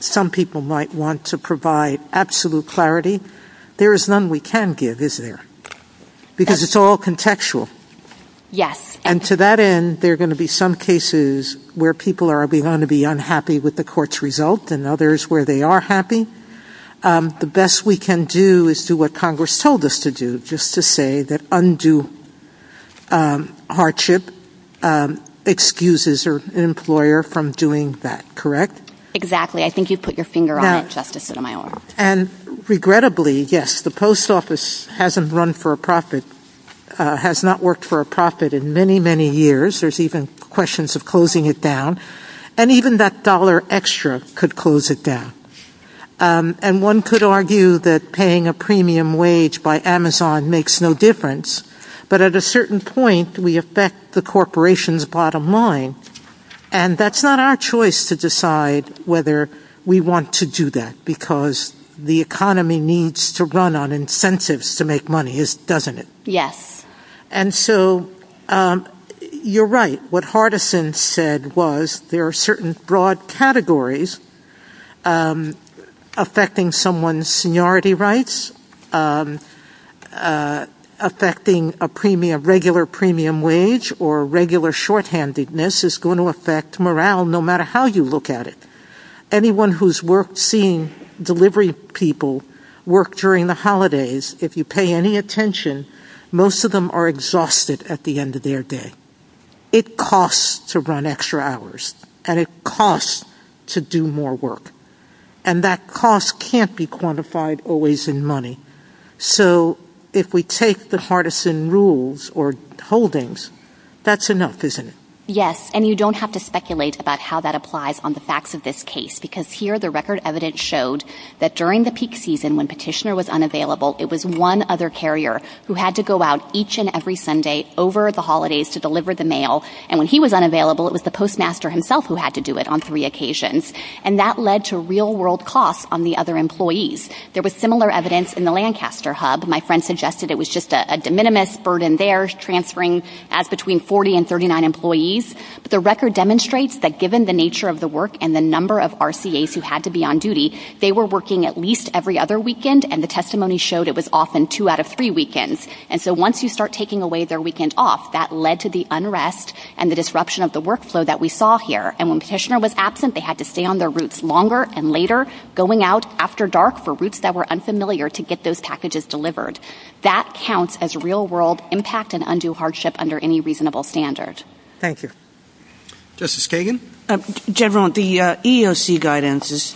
some people might want to provide absolute clarity, there is none we can give, isn't there? Because it's all contextual. Yes. And to that end, there are going to be some cases where people are going to be unhappy with the court's result and others where they are happy. The best we can do is do what Congress told us to do, just to say that undue hardship excuses an employer from doing that, correct? Exactly. I think you put your finger on it, Justice Sotomayor. And regrettably, yes, the post office hasn't run for a profit, has not worked for a profit in many, many years. There's even questions of closing it down. And even that dollar extra could close it down. And one could argue that paying a premium wage by Amazon makes no difference. But at a certain point, we affect the corporation's bottom line and that's not our choice to decide whether we want to do that because the economy needs to run on incentives to make money, doesn't it? Yes. And so you're right. What Hardison said was there are certain broad categories affecting someone's seniority rights, affecting a regular premium wage or regular shorthandedness is going to affect morale no matter how you look at it. Anyone who's seen delivery people work during the holidays, if you pay any attention, most of them are exhausted at the end of their day. It costs to run extra hours. And it costs to do more work. And that cost can't be quantified always in money. So if we take the Hardison rules or holdings, that's enough, isn't it? Yes. And you don't have to speculate about how that applies on the facts of this case because here the record evidence showed that during the peak season when Petitioner was unavailable, it was one other carrier who had to go out each and every Sunday over the holidays to deliver the mail. And when he was unavailable, it was the postmaster himself who had to do it on three occasions. And that led to real-world costs on the other employees. There was similar evidence in the Lancaster hub. My friend suggested it was just a de minimis burden there, transferring as between 40 and 39 employees. But the record demonstrates that given the nature of the work and the number of RCAs who had to be on duty, they were working at least every other weekend, and the testimony showed it was often two out of three weekends. And so once you start taking away their weekend off, that led to the unrest and the disruption of the workflow that we saw here. And when Petitioner was absent, they had to stay on their routes longer and later, going out after dark for routes that were unfamiliar to get those packages delivered. That counts as real-world impact and undue hardship under any reasonable standard. Thank you. Justice Kagan? Jevron, the EEOC guidance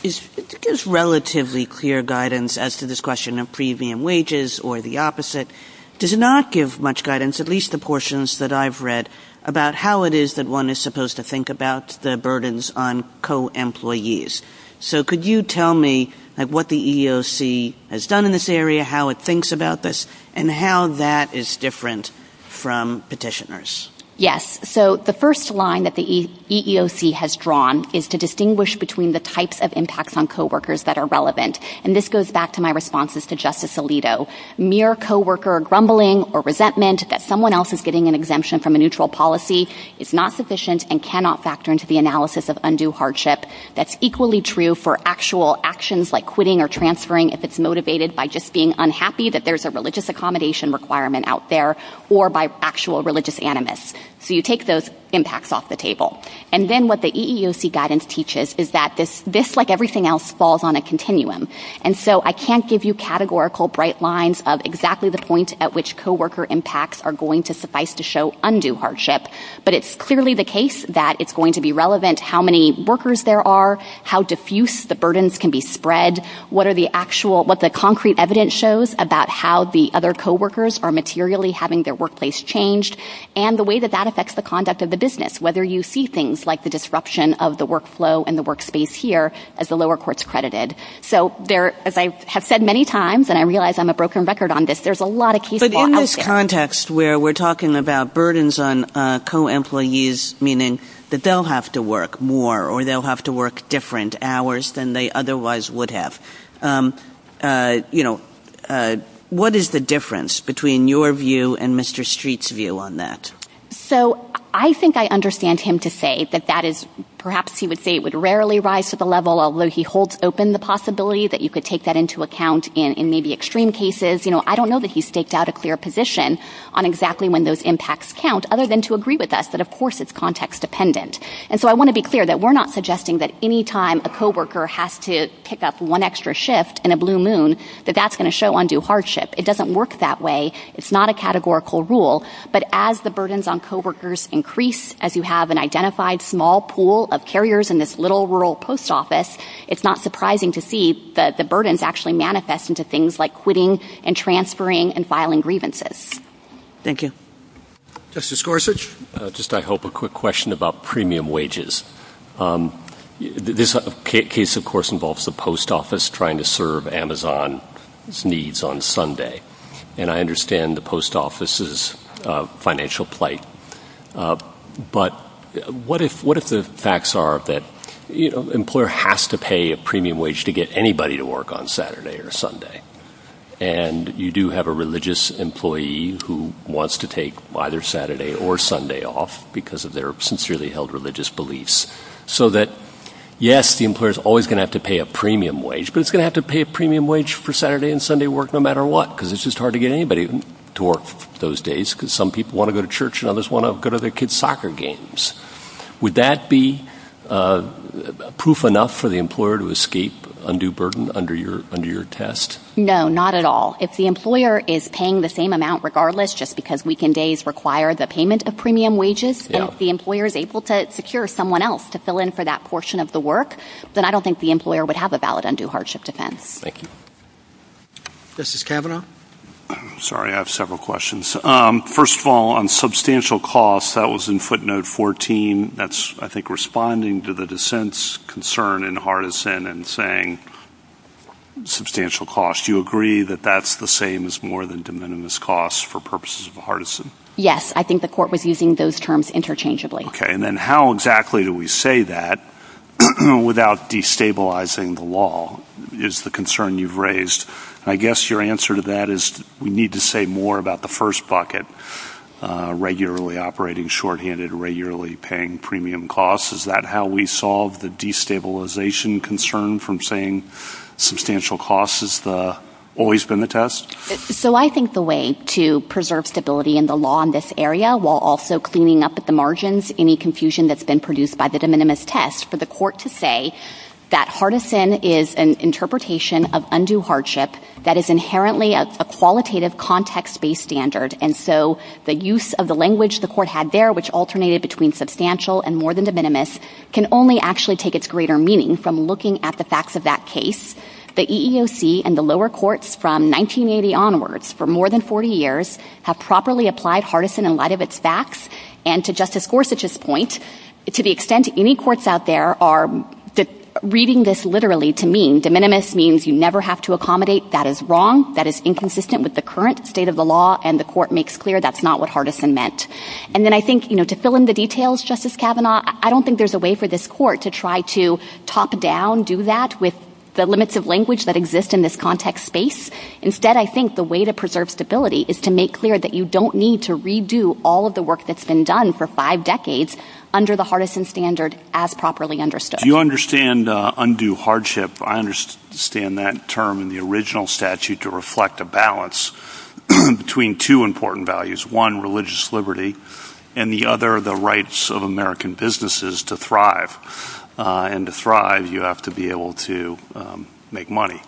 gives relatively clear guidance as to this question of premium wages or the opposite. It does not give much guidance, at least the portions that I've read, about how it is that one is supposed to think about the burdens on co-employees. So could you tell me what the EEOC has done in this area, how it thinks about this, and how that is different from Petitioner's? Yes. So the first line that the EEOC has drawn is to distinguish between the types of impacts on co-workers that are relevant. And this goes back to my responses to Justice Alito. Mere co-worker grumbling or resentment that someone else is getting an exemption from a neutral policy is not sufficient and cannot factor into the analysis of undue hardship. That's equally true for actual actions like quitting or transferring if it's motivated by just being unhappy that there's a religious accommodation requirement out there or by actual religious animus. So you take those impacts off the table. And then what the EEOC guidance teaches is that this, like everything else, falls on a continuum. And so I can't give you categorical bright lines of exactly the point at which co-worker impacts are going to suffice to show undue hardship, but it's clearly the case that it's going to be relevant how many workers there are, how diffuse the burdens can be spread, what the concrete evidence shows about how the other co-workers are materially having their workplace changed and the way that that affects the conduct of the business, whether you see things like the disruption of the workflow and the workspace here as the lower courts credited. So as I have said many times, and I realize I'm a broken record on this, there's a lot of case law out there. But in this context where we're talking about burdens on co-employees, meaning that they'll have to work more or they'll have to work different hours than they otherwise would have, you know, what is the difference between your view and Mr. Street's view on that? So I think I understand him to say that that is, perhaps he would say it would rarely rise to the level although he holds open the possibility that you could take that into account in maybe extreme cases. You know, I don't know that he's staked out a clear position on exactly when those impacts count other than to agree with us that of course it's context dependent. And so I want to be clear that we're not suggesting that any time a co-worker has to pick up one extra shift in a blue moon that that's going to show undue hardship. It doesn't work that way. It's not a categorical rule. But as the burdens on co-workers increase, as you have an identified small pool of carriers in this little rural post office, it's not surprising to see that the burdens actually manifest into things like quitting and transferring and filing grievances. Thank you. Justice Gorsuch, just I hope a quick question about premium wages. This case of course involves the post office trying to serve Amazon's needs on Sunday. And I understand the post office's financial plight. But what if the facts are that the employer has to pay a premium wage to get anybody to work on Saturday or Sunday and you do have a religious employee who wants to take either Saturday or Sunday off because of their sincerely held religious beliefs? So that, yes, the employer is always going to have to pay a premium wage, but it's going to have to pay a premium wage for Saturday and Sunday work no matter what because it's just hard to get anybody to work those days because some people want to go to church and others want to go to their kids' soccer games. Would that be proof enough for the employer to escape undue burden under your test? No, not at all. If the employer is paying the same amount regardless just because weekend days require the payment of premium wages and if the employer is able to secure someone else to fill in for that portion of the work, then I don't think the employer would have a valid undue hardship defense. Thank you. Christos Cavanaugh? Sorry, I have several questions. First of all, on substantial costs, that was in footnote 14. That's, I think, responding to the dissent's concern in Hardison and saying substantial costs. Do you agree that that's the same as more than de minimis costs for purposes of Hardison? Yes, I think the court was using those terms interchangeably. Okay, and then how exactly do we say that without destabilizing the law is the concern you've raised. I guess your answer to that is we need to say more about the first bucket, regularly operating shorthanded, regularly paying premium costs. Is that how we solve the destabilization concern from saying substantial costs has always been the test? So I think the way to preserve stability in the law in this area while also cleaning up at the margins any confusion that's been produced by the de minimis test for the court to say that Hardison is an interpretation of undue hardship that is inherently a qualitative context-based standard and so the use of the language the court had there, which alternated between substantial and more than de minimis, can only actually take its greater meaning from looking at the facts of that case. The EEOC and the lower courts from 1980 onwards for more than 40 years have properly applied Hardison in light of its facts, and to Justice Gorsuch's point, to the extent any courts out there are reading this literally to mean de minimis means you never have to accommodate that is wrong, that is inconsistent with the current state of the law, and the court makes clear that's not what Hardison meant. And then I think, you know, to fill in the details, Justice Kavanaugh, I don't think there's a way for this court to try to top down, do that, with the limits of language that exist in this context space. Instead, I think the way to preserve stability is to make clear that you don't need to redo all of the work that's been done for five decades under the Hardison standard as properly understood. Do you understand undue hardship? I understand that term in the original statute to reflect a balance between two important values, one, religious liberty, and the other, the rights of American businesses to thrive. And to thrive, you have to be able to make money.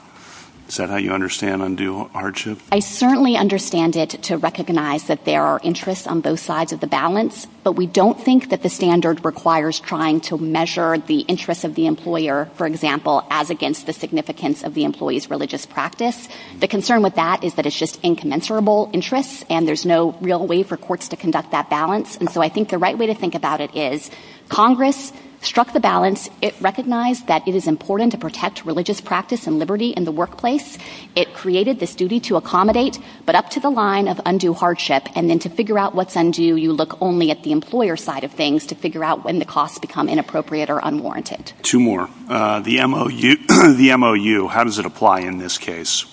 Is that how you understand undue hardship? I certainly understand it to recognize that there are interests on both sides of the balance, but we don't think that the standard requires trying to measure the interests of the employer, for example, as against the significance of the employee's religious practice. The concern with that is that it's just incommensurable interest, and there's no real way for courts to conduct that balance. And so I think the right way to think about it is Congress struck the balance. It recognized that it is important to protect religious practice and liberty in the workplace. It created this duty to accommodate, but up to the line of undue hardship. And then to figure out what's undue, you look only at the employer's side of things to figure out when the costs become inappropriate or unwarranted. Two more. The MOU. How does it apply in this case?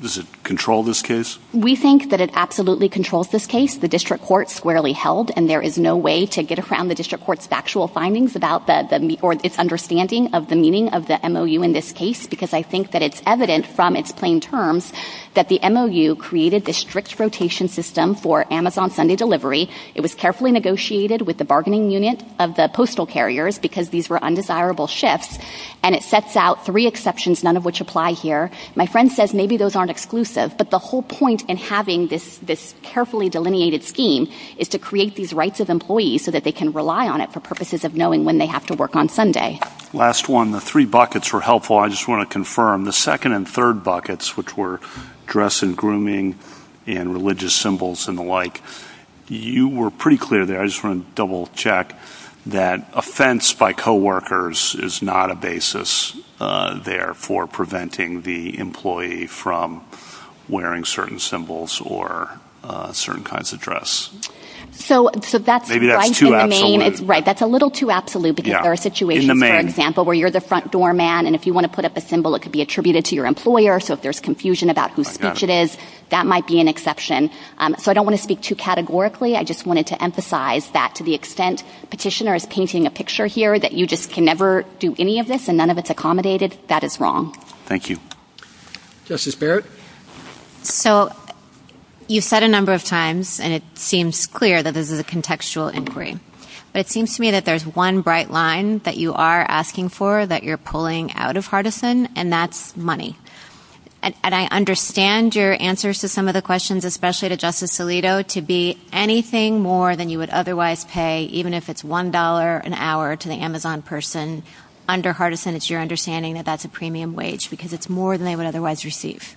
Does it control this case? We think that it absolutely controls this case. The district court squarely held, and there is no way to get around the district court's actual findings or its understanding of the meaning of the MOU in this case because I think that it's evident from its plain terms that the MOU created this strict rotation system for Amazon Sunday delivery. It was carefully negotiated with the bargaining unit of the postal carriers because these were undesirable shifts, and it sets out three exceptions, none of which apply here. My friend says maybe those aren't exclusive, but the whole point in having this carefully delineated scheme is to create these rights of employees so that they can rely on it for purposes of knowing when they have to work on Sunday. Last one. The three buckets were helpful. I just want to confirm, the second and third buckets, which were dress and grooming and religious symbols and the like, you were pretty clear there. I just want to double-check that offense by coworkers is not a basis there for preventing the employee from wearing certain symbols or certain kinds of dress. Maybe that's too absolute. Right, that's a little too absolute because there are situations, for example, where you're the front-door man, and if you want to put up a symbol, it could be attributed to your employer, so if there's confusion about whose speech it is, that might be an exception. So I don't want to speak too categorically. I just wanted to emphasize that to the extent Petitioner is painting a picture here that you just can never do any of this and none of it's accommodated, that is wrong. Thank you. Justice Barrett? So you've said a number of times, and it seems clear that this is a contextual inquiry, but it seems to me that there's one bright line that you are asking for that you're pulling out of Hardison, and that's money. And I understand your answers to some of the questions, especially to Justice Alito, to be anything more than you would otherwise pay, even if it's $1 an hour to the Amazon person. Under Hardison, it's your understanding that that's a premium wage because it's more than they would otherwise receive.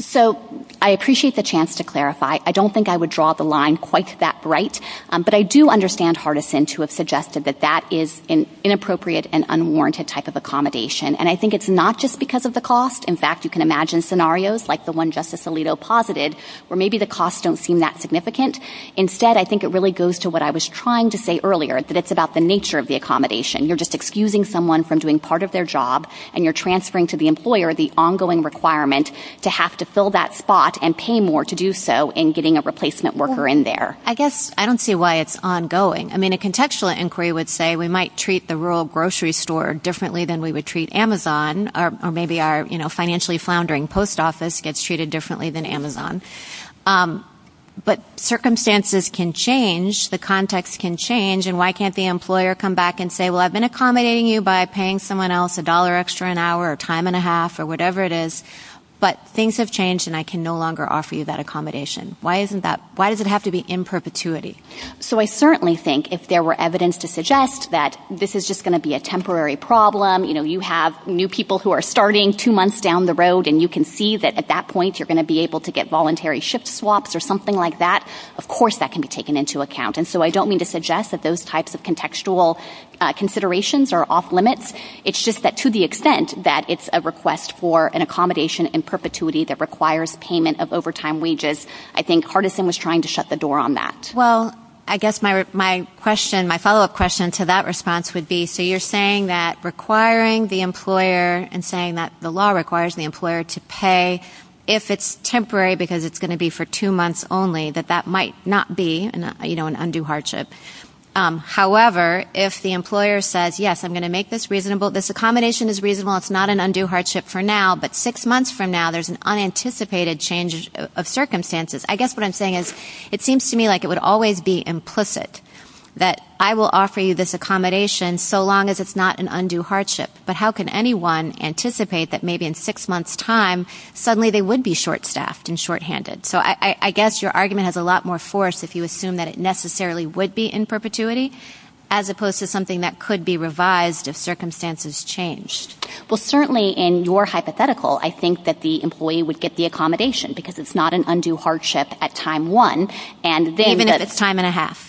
So I appreciate the chance to clarify. I don't think I would draw the line quite that bright, but I do understand Hardison to have suggested that that is an inappropriate and unwarranted type of accommodation, and I think it's not just because of the cost. In fact, you can imagine scenarios like the one Justice Alito posited where maybe the costs don't seem that significant. Instead, I think it really goes to what I was trying to say earlier, that it's about the nature of the accommodation. You're just excusing someone from doing part of their job, and you're transferring to the employer the ongoing requirement to have to fill that spot and pay more to do so in getting a replacement worker in there. I guess I don't see why it's ongoing. I mean, a contextual inquiry would say we might treat the rural grocery store differently than we would treat Amazon, or maybe our financially floundering post office gets treated differently than Amazon. But circumstances can change. The context can change. And why can't the employer come back and say, well, I've been accommodating you by paying someone else a dollar extra an hour or a time and a half or whatever it is, but things have changed and I can no longer offer you that accommodation. Why does it have to be in perpetuity? So I certainly think if there were evidence to suggest that this is just going to be a temporary problem, you have new people who are starting two months down the road, and you can see that at that point you're going to be able to get voluntary shift swaps or something like that, of course that can be taken into account. And so I don't mean to suggest that those types of contextual considerations are off limits. It's just that to the extent that it's a request for an accommodation in perpetuity that requires payment of overtime wages, I think Hardison was trying to shut the door on that. Well, I guess my follow-up question to that response would be, so you're saying that requiring the employer and saying that the law requires the employer to pay, if it's temporary because it's going to be for two months only, that that might not be an undue hardship. However, if the employer says, yes, I'm going to make this reasonable, this accommodation is reasonable, it's not an undue hardship for now, but six months from now there's an unanticipated change of circumstances, I guess what I'm saying is it seems to me like it would always be implicit that I will offer you this accommodation so long as it's not an undue hardship. But how can anyone anticipate that maybe in six months' time suddenly they would be short-staffed and shorthanded? So I guess your argument has a lot more force if you assume that it necessarily would be in perpetuity as opposed to something that could be revised if circumstances changed. Well, certainly in your hypothetical, I think that the employee would get the accommodation because it's not an undue hardship at time one. Even if it's time and a half.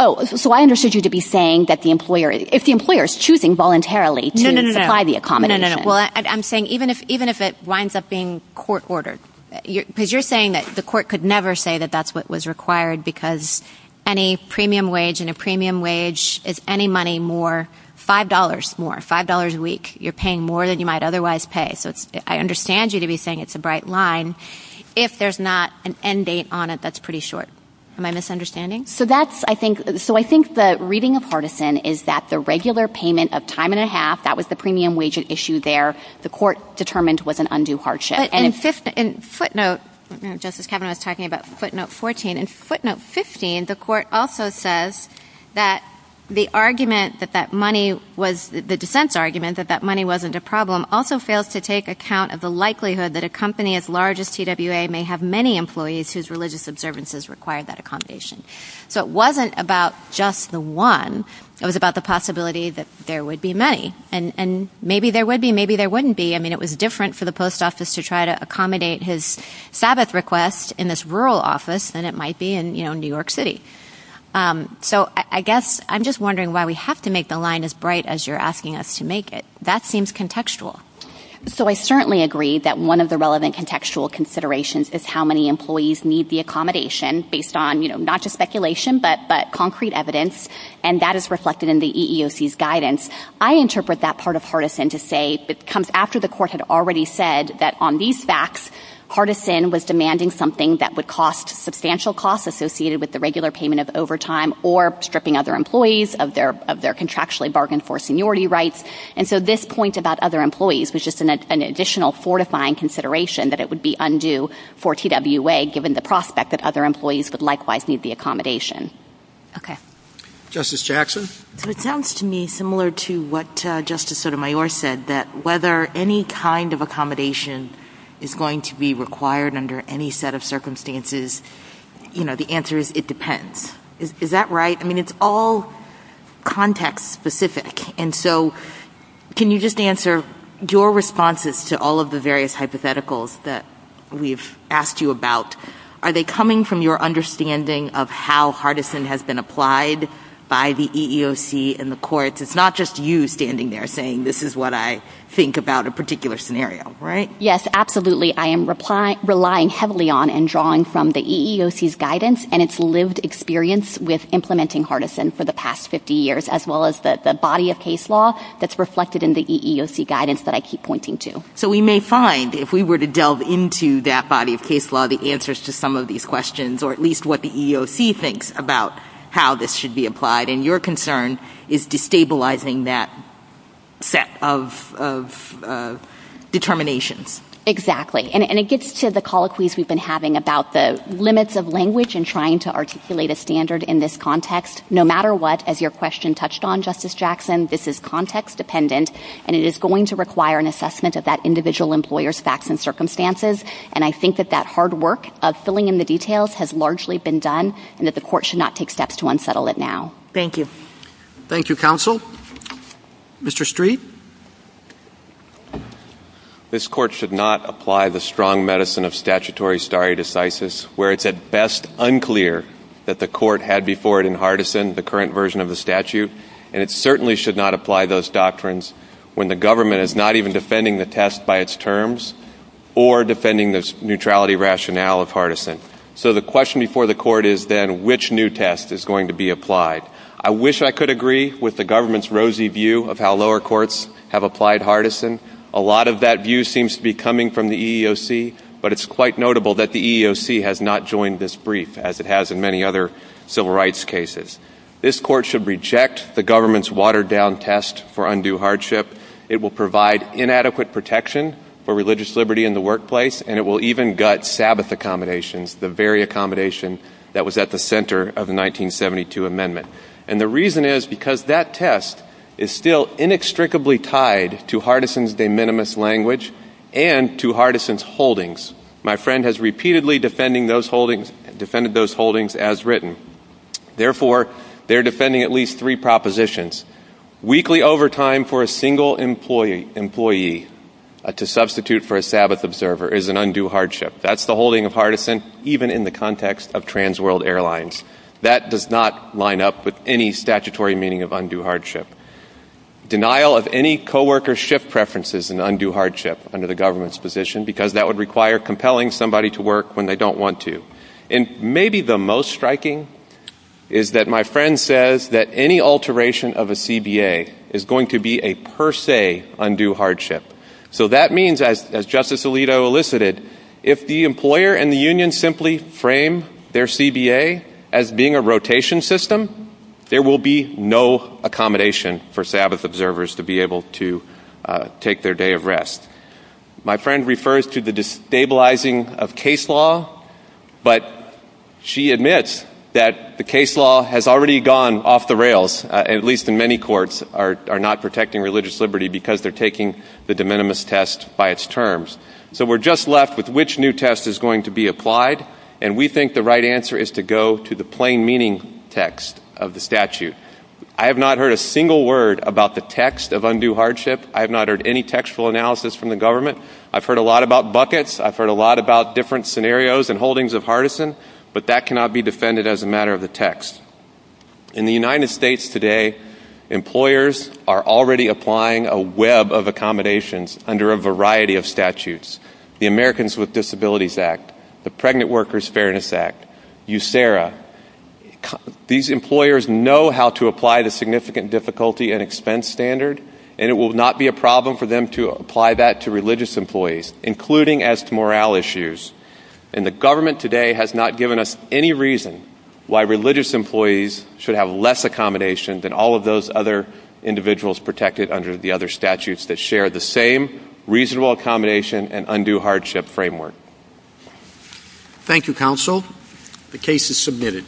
Oh, so I understood you to be saying that if the employer is choosing voluntarily to supply the accommodation. No, no, no. Well, I'm saying even if it winds up being court-ordered. Because you're saying that the court could never say that that's what was required because any premium wage and a premium wage is any money more, $5 more, $5 a week. You're paying more than you might otherwise pay. So I understand you to be saying it's a bright line. If there's not an end date on it, that's pretty short. Am I misunderstanding? So I think the reading of partisan is that the regular payment of time and a half, that was the premium wage issue there, the court determined was an undue hardship. And footnote, Justice Kavanaugh was talking about footnote 14. In footnote 15, the court also says that the argument that that money was, the defense argument that that money wasn't a problem, also fails to take account of the likelihood that a company as large as TWA may have many employees whose religious observances require that accommodation. So it wasn't about just the one. It was about the possibility that there would be many. And maybe there would be, maybe there wouldn't be. I mean, it was different for the post office to try to accommodate his Sabbath request in this rural office than it might be in New York City. So I guess I'm just wondering why we have to make the line as bright as you're asking us to make it. That seems contextual. So I certainly agree that one of the relevant contextual considerations is how many employees need the accommodation based on not just speculation but concrete evidence, and that is reflected in the EEOC's guidance. I interpret that part of Hardison to say it comes after the court had already said that on these facts, Hardison was demanding something that would cost substantial costs associated with the regular payment of overtime or stripping other employees of their contractually bargained for seniority rights. And so this point about other employees was just an additional fortifying consideration that it would be undue for TWA given the prospect that other employees would likewise need the accommodation. Okay. Justice Jackson? It sounds to me similar to what Justice Sotomayor said, that whether any kind of accommodation is going to be required under any set of circumstances, you know, the answer is it depends. Is that right? I mean, it's all context-specific. And so can you just answer your responses to all of the various hypotheticals that we've asked you about, are they coming from your understanding of how Hardison has been applied by the EEOC and the courts? It's not just you standing there saying, this is what I think about a particular scenario, right? Yes, absolutely. I am relying heavily on and drawing from the EEOC's guidance and its lived experience with implementing Hardison for the past 50 years, as well as the body of case law that's reflected in the EEOC guidance that I keep pointing to. So we may find, if we were to delve into that body of case law, the answers to some of these questions, or at least what the EEOC thinks about how this should be applied. And your concern is destabilizing that set of determination. Exactly. And it gets to the colloquies we've been having about the limits of language in trying to articulate a standard in this context. No matter what, as your question touched on, Justice Jackson, this is context-dependent, and it is going to require an assessment of that individual employer's facts and circumstances. And I think that that hard work of filling in the details has largely been done and that the court should not take steps to unsettle it now. Thank you. Thank you, counsel. Mr. Street? This court should not apply the strong medicine of statutory stare decisis, where it's at best unclear that the court had before it in Hardison the current version of the statute. And it certainly should not apply those doctrines when the government is not even defending the test by its terms or defending the neutrality rationale of Hardison. So the question before the court is then, which new test is going to be applied? I wish I could agree with the government's rosy view of how lower courts have applied Hardison. A lot of that view seems to be coming from the EEOC, but it's quite notable that the EEOC has not joined this brief, as it has in many other civil rights cases. This court should reject the government's watered-down test for undue hardship. It will provide inadequate protection for religious liberty in the workplace, and it will even gut Sabbath accommodations, the very accommodation that was at the center of the 1972 amendment. And the reason is because that test is still inextricably tied to Hardison's de minimis language and to Hardison's holdings. My friend has repeatedly defended those holdings as written. Therefore, they're defending at least three propositions. Weekly overtime for a single employee to substitute for a Sabbath observer is an undue hardship. That's the holding of Hardison even in the context of TransWorld Airlines. That does not line up with any statutory meaning of undue hardship. Denial of any co-worker ship preferences is an undue hardship under the government's position, because that would require compelling somebody to work when they don't want to. And maybe the most striking is that my friend says that any alteration of a CBA is going to be a per se undue hardship. So that means, as Justice Alito elicited, if the employer and the union simply frame their CBA as being a rotation system, there will be no accommodation for Sabbath observers to be able to take their day of rest. My friend refers to the destabilizing of case law, but she admits that the case law has already gone off the rails, at least in many courts, are not protecting religious liberty because they're taking the de minimis test by its terms. So we're just left with which new test is going to be applied, and we think the right answer is to go to the plain meaning text of the statute. I have not heard a single word about the text of undue hardship. I have not heard any textual analysis from the government. I've heard a lot about buckets. I've heard a lot about different scenarios and holdings of hardison, but that cannot be defended as a matter of the text. In the United States today, employers are already applying a web of accommodations under a variety of statutes, the Americans with Disabilities Act, the Pregnant Workers Fairness Act, USERRA. These employers know how to apply the significant difficulty and expense standard, and it will not be a problem for them to apply that to religious employees, including as to morale issues. And the government today has not given us any reason why religious employees should have less accommodation than all of those other individuals protected under the other statutes that share the same reasonable accommodation and undue hardship framework. Thank you, counsel. The case is submitted.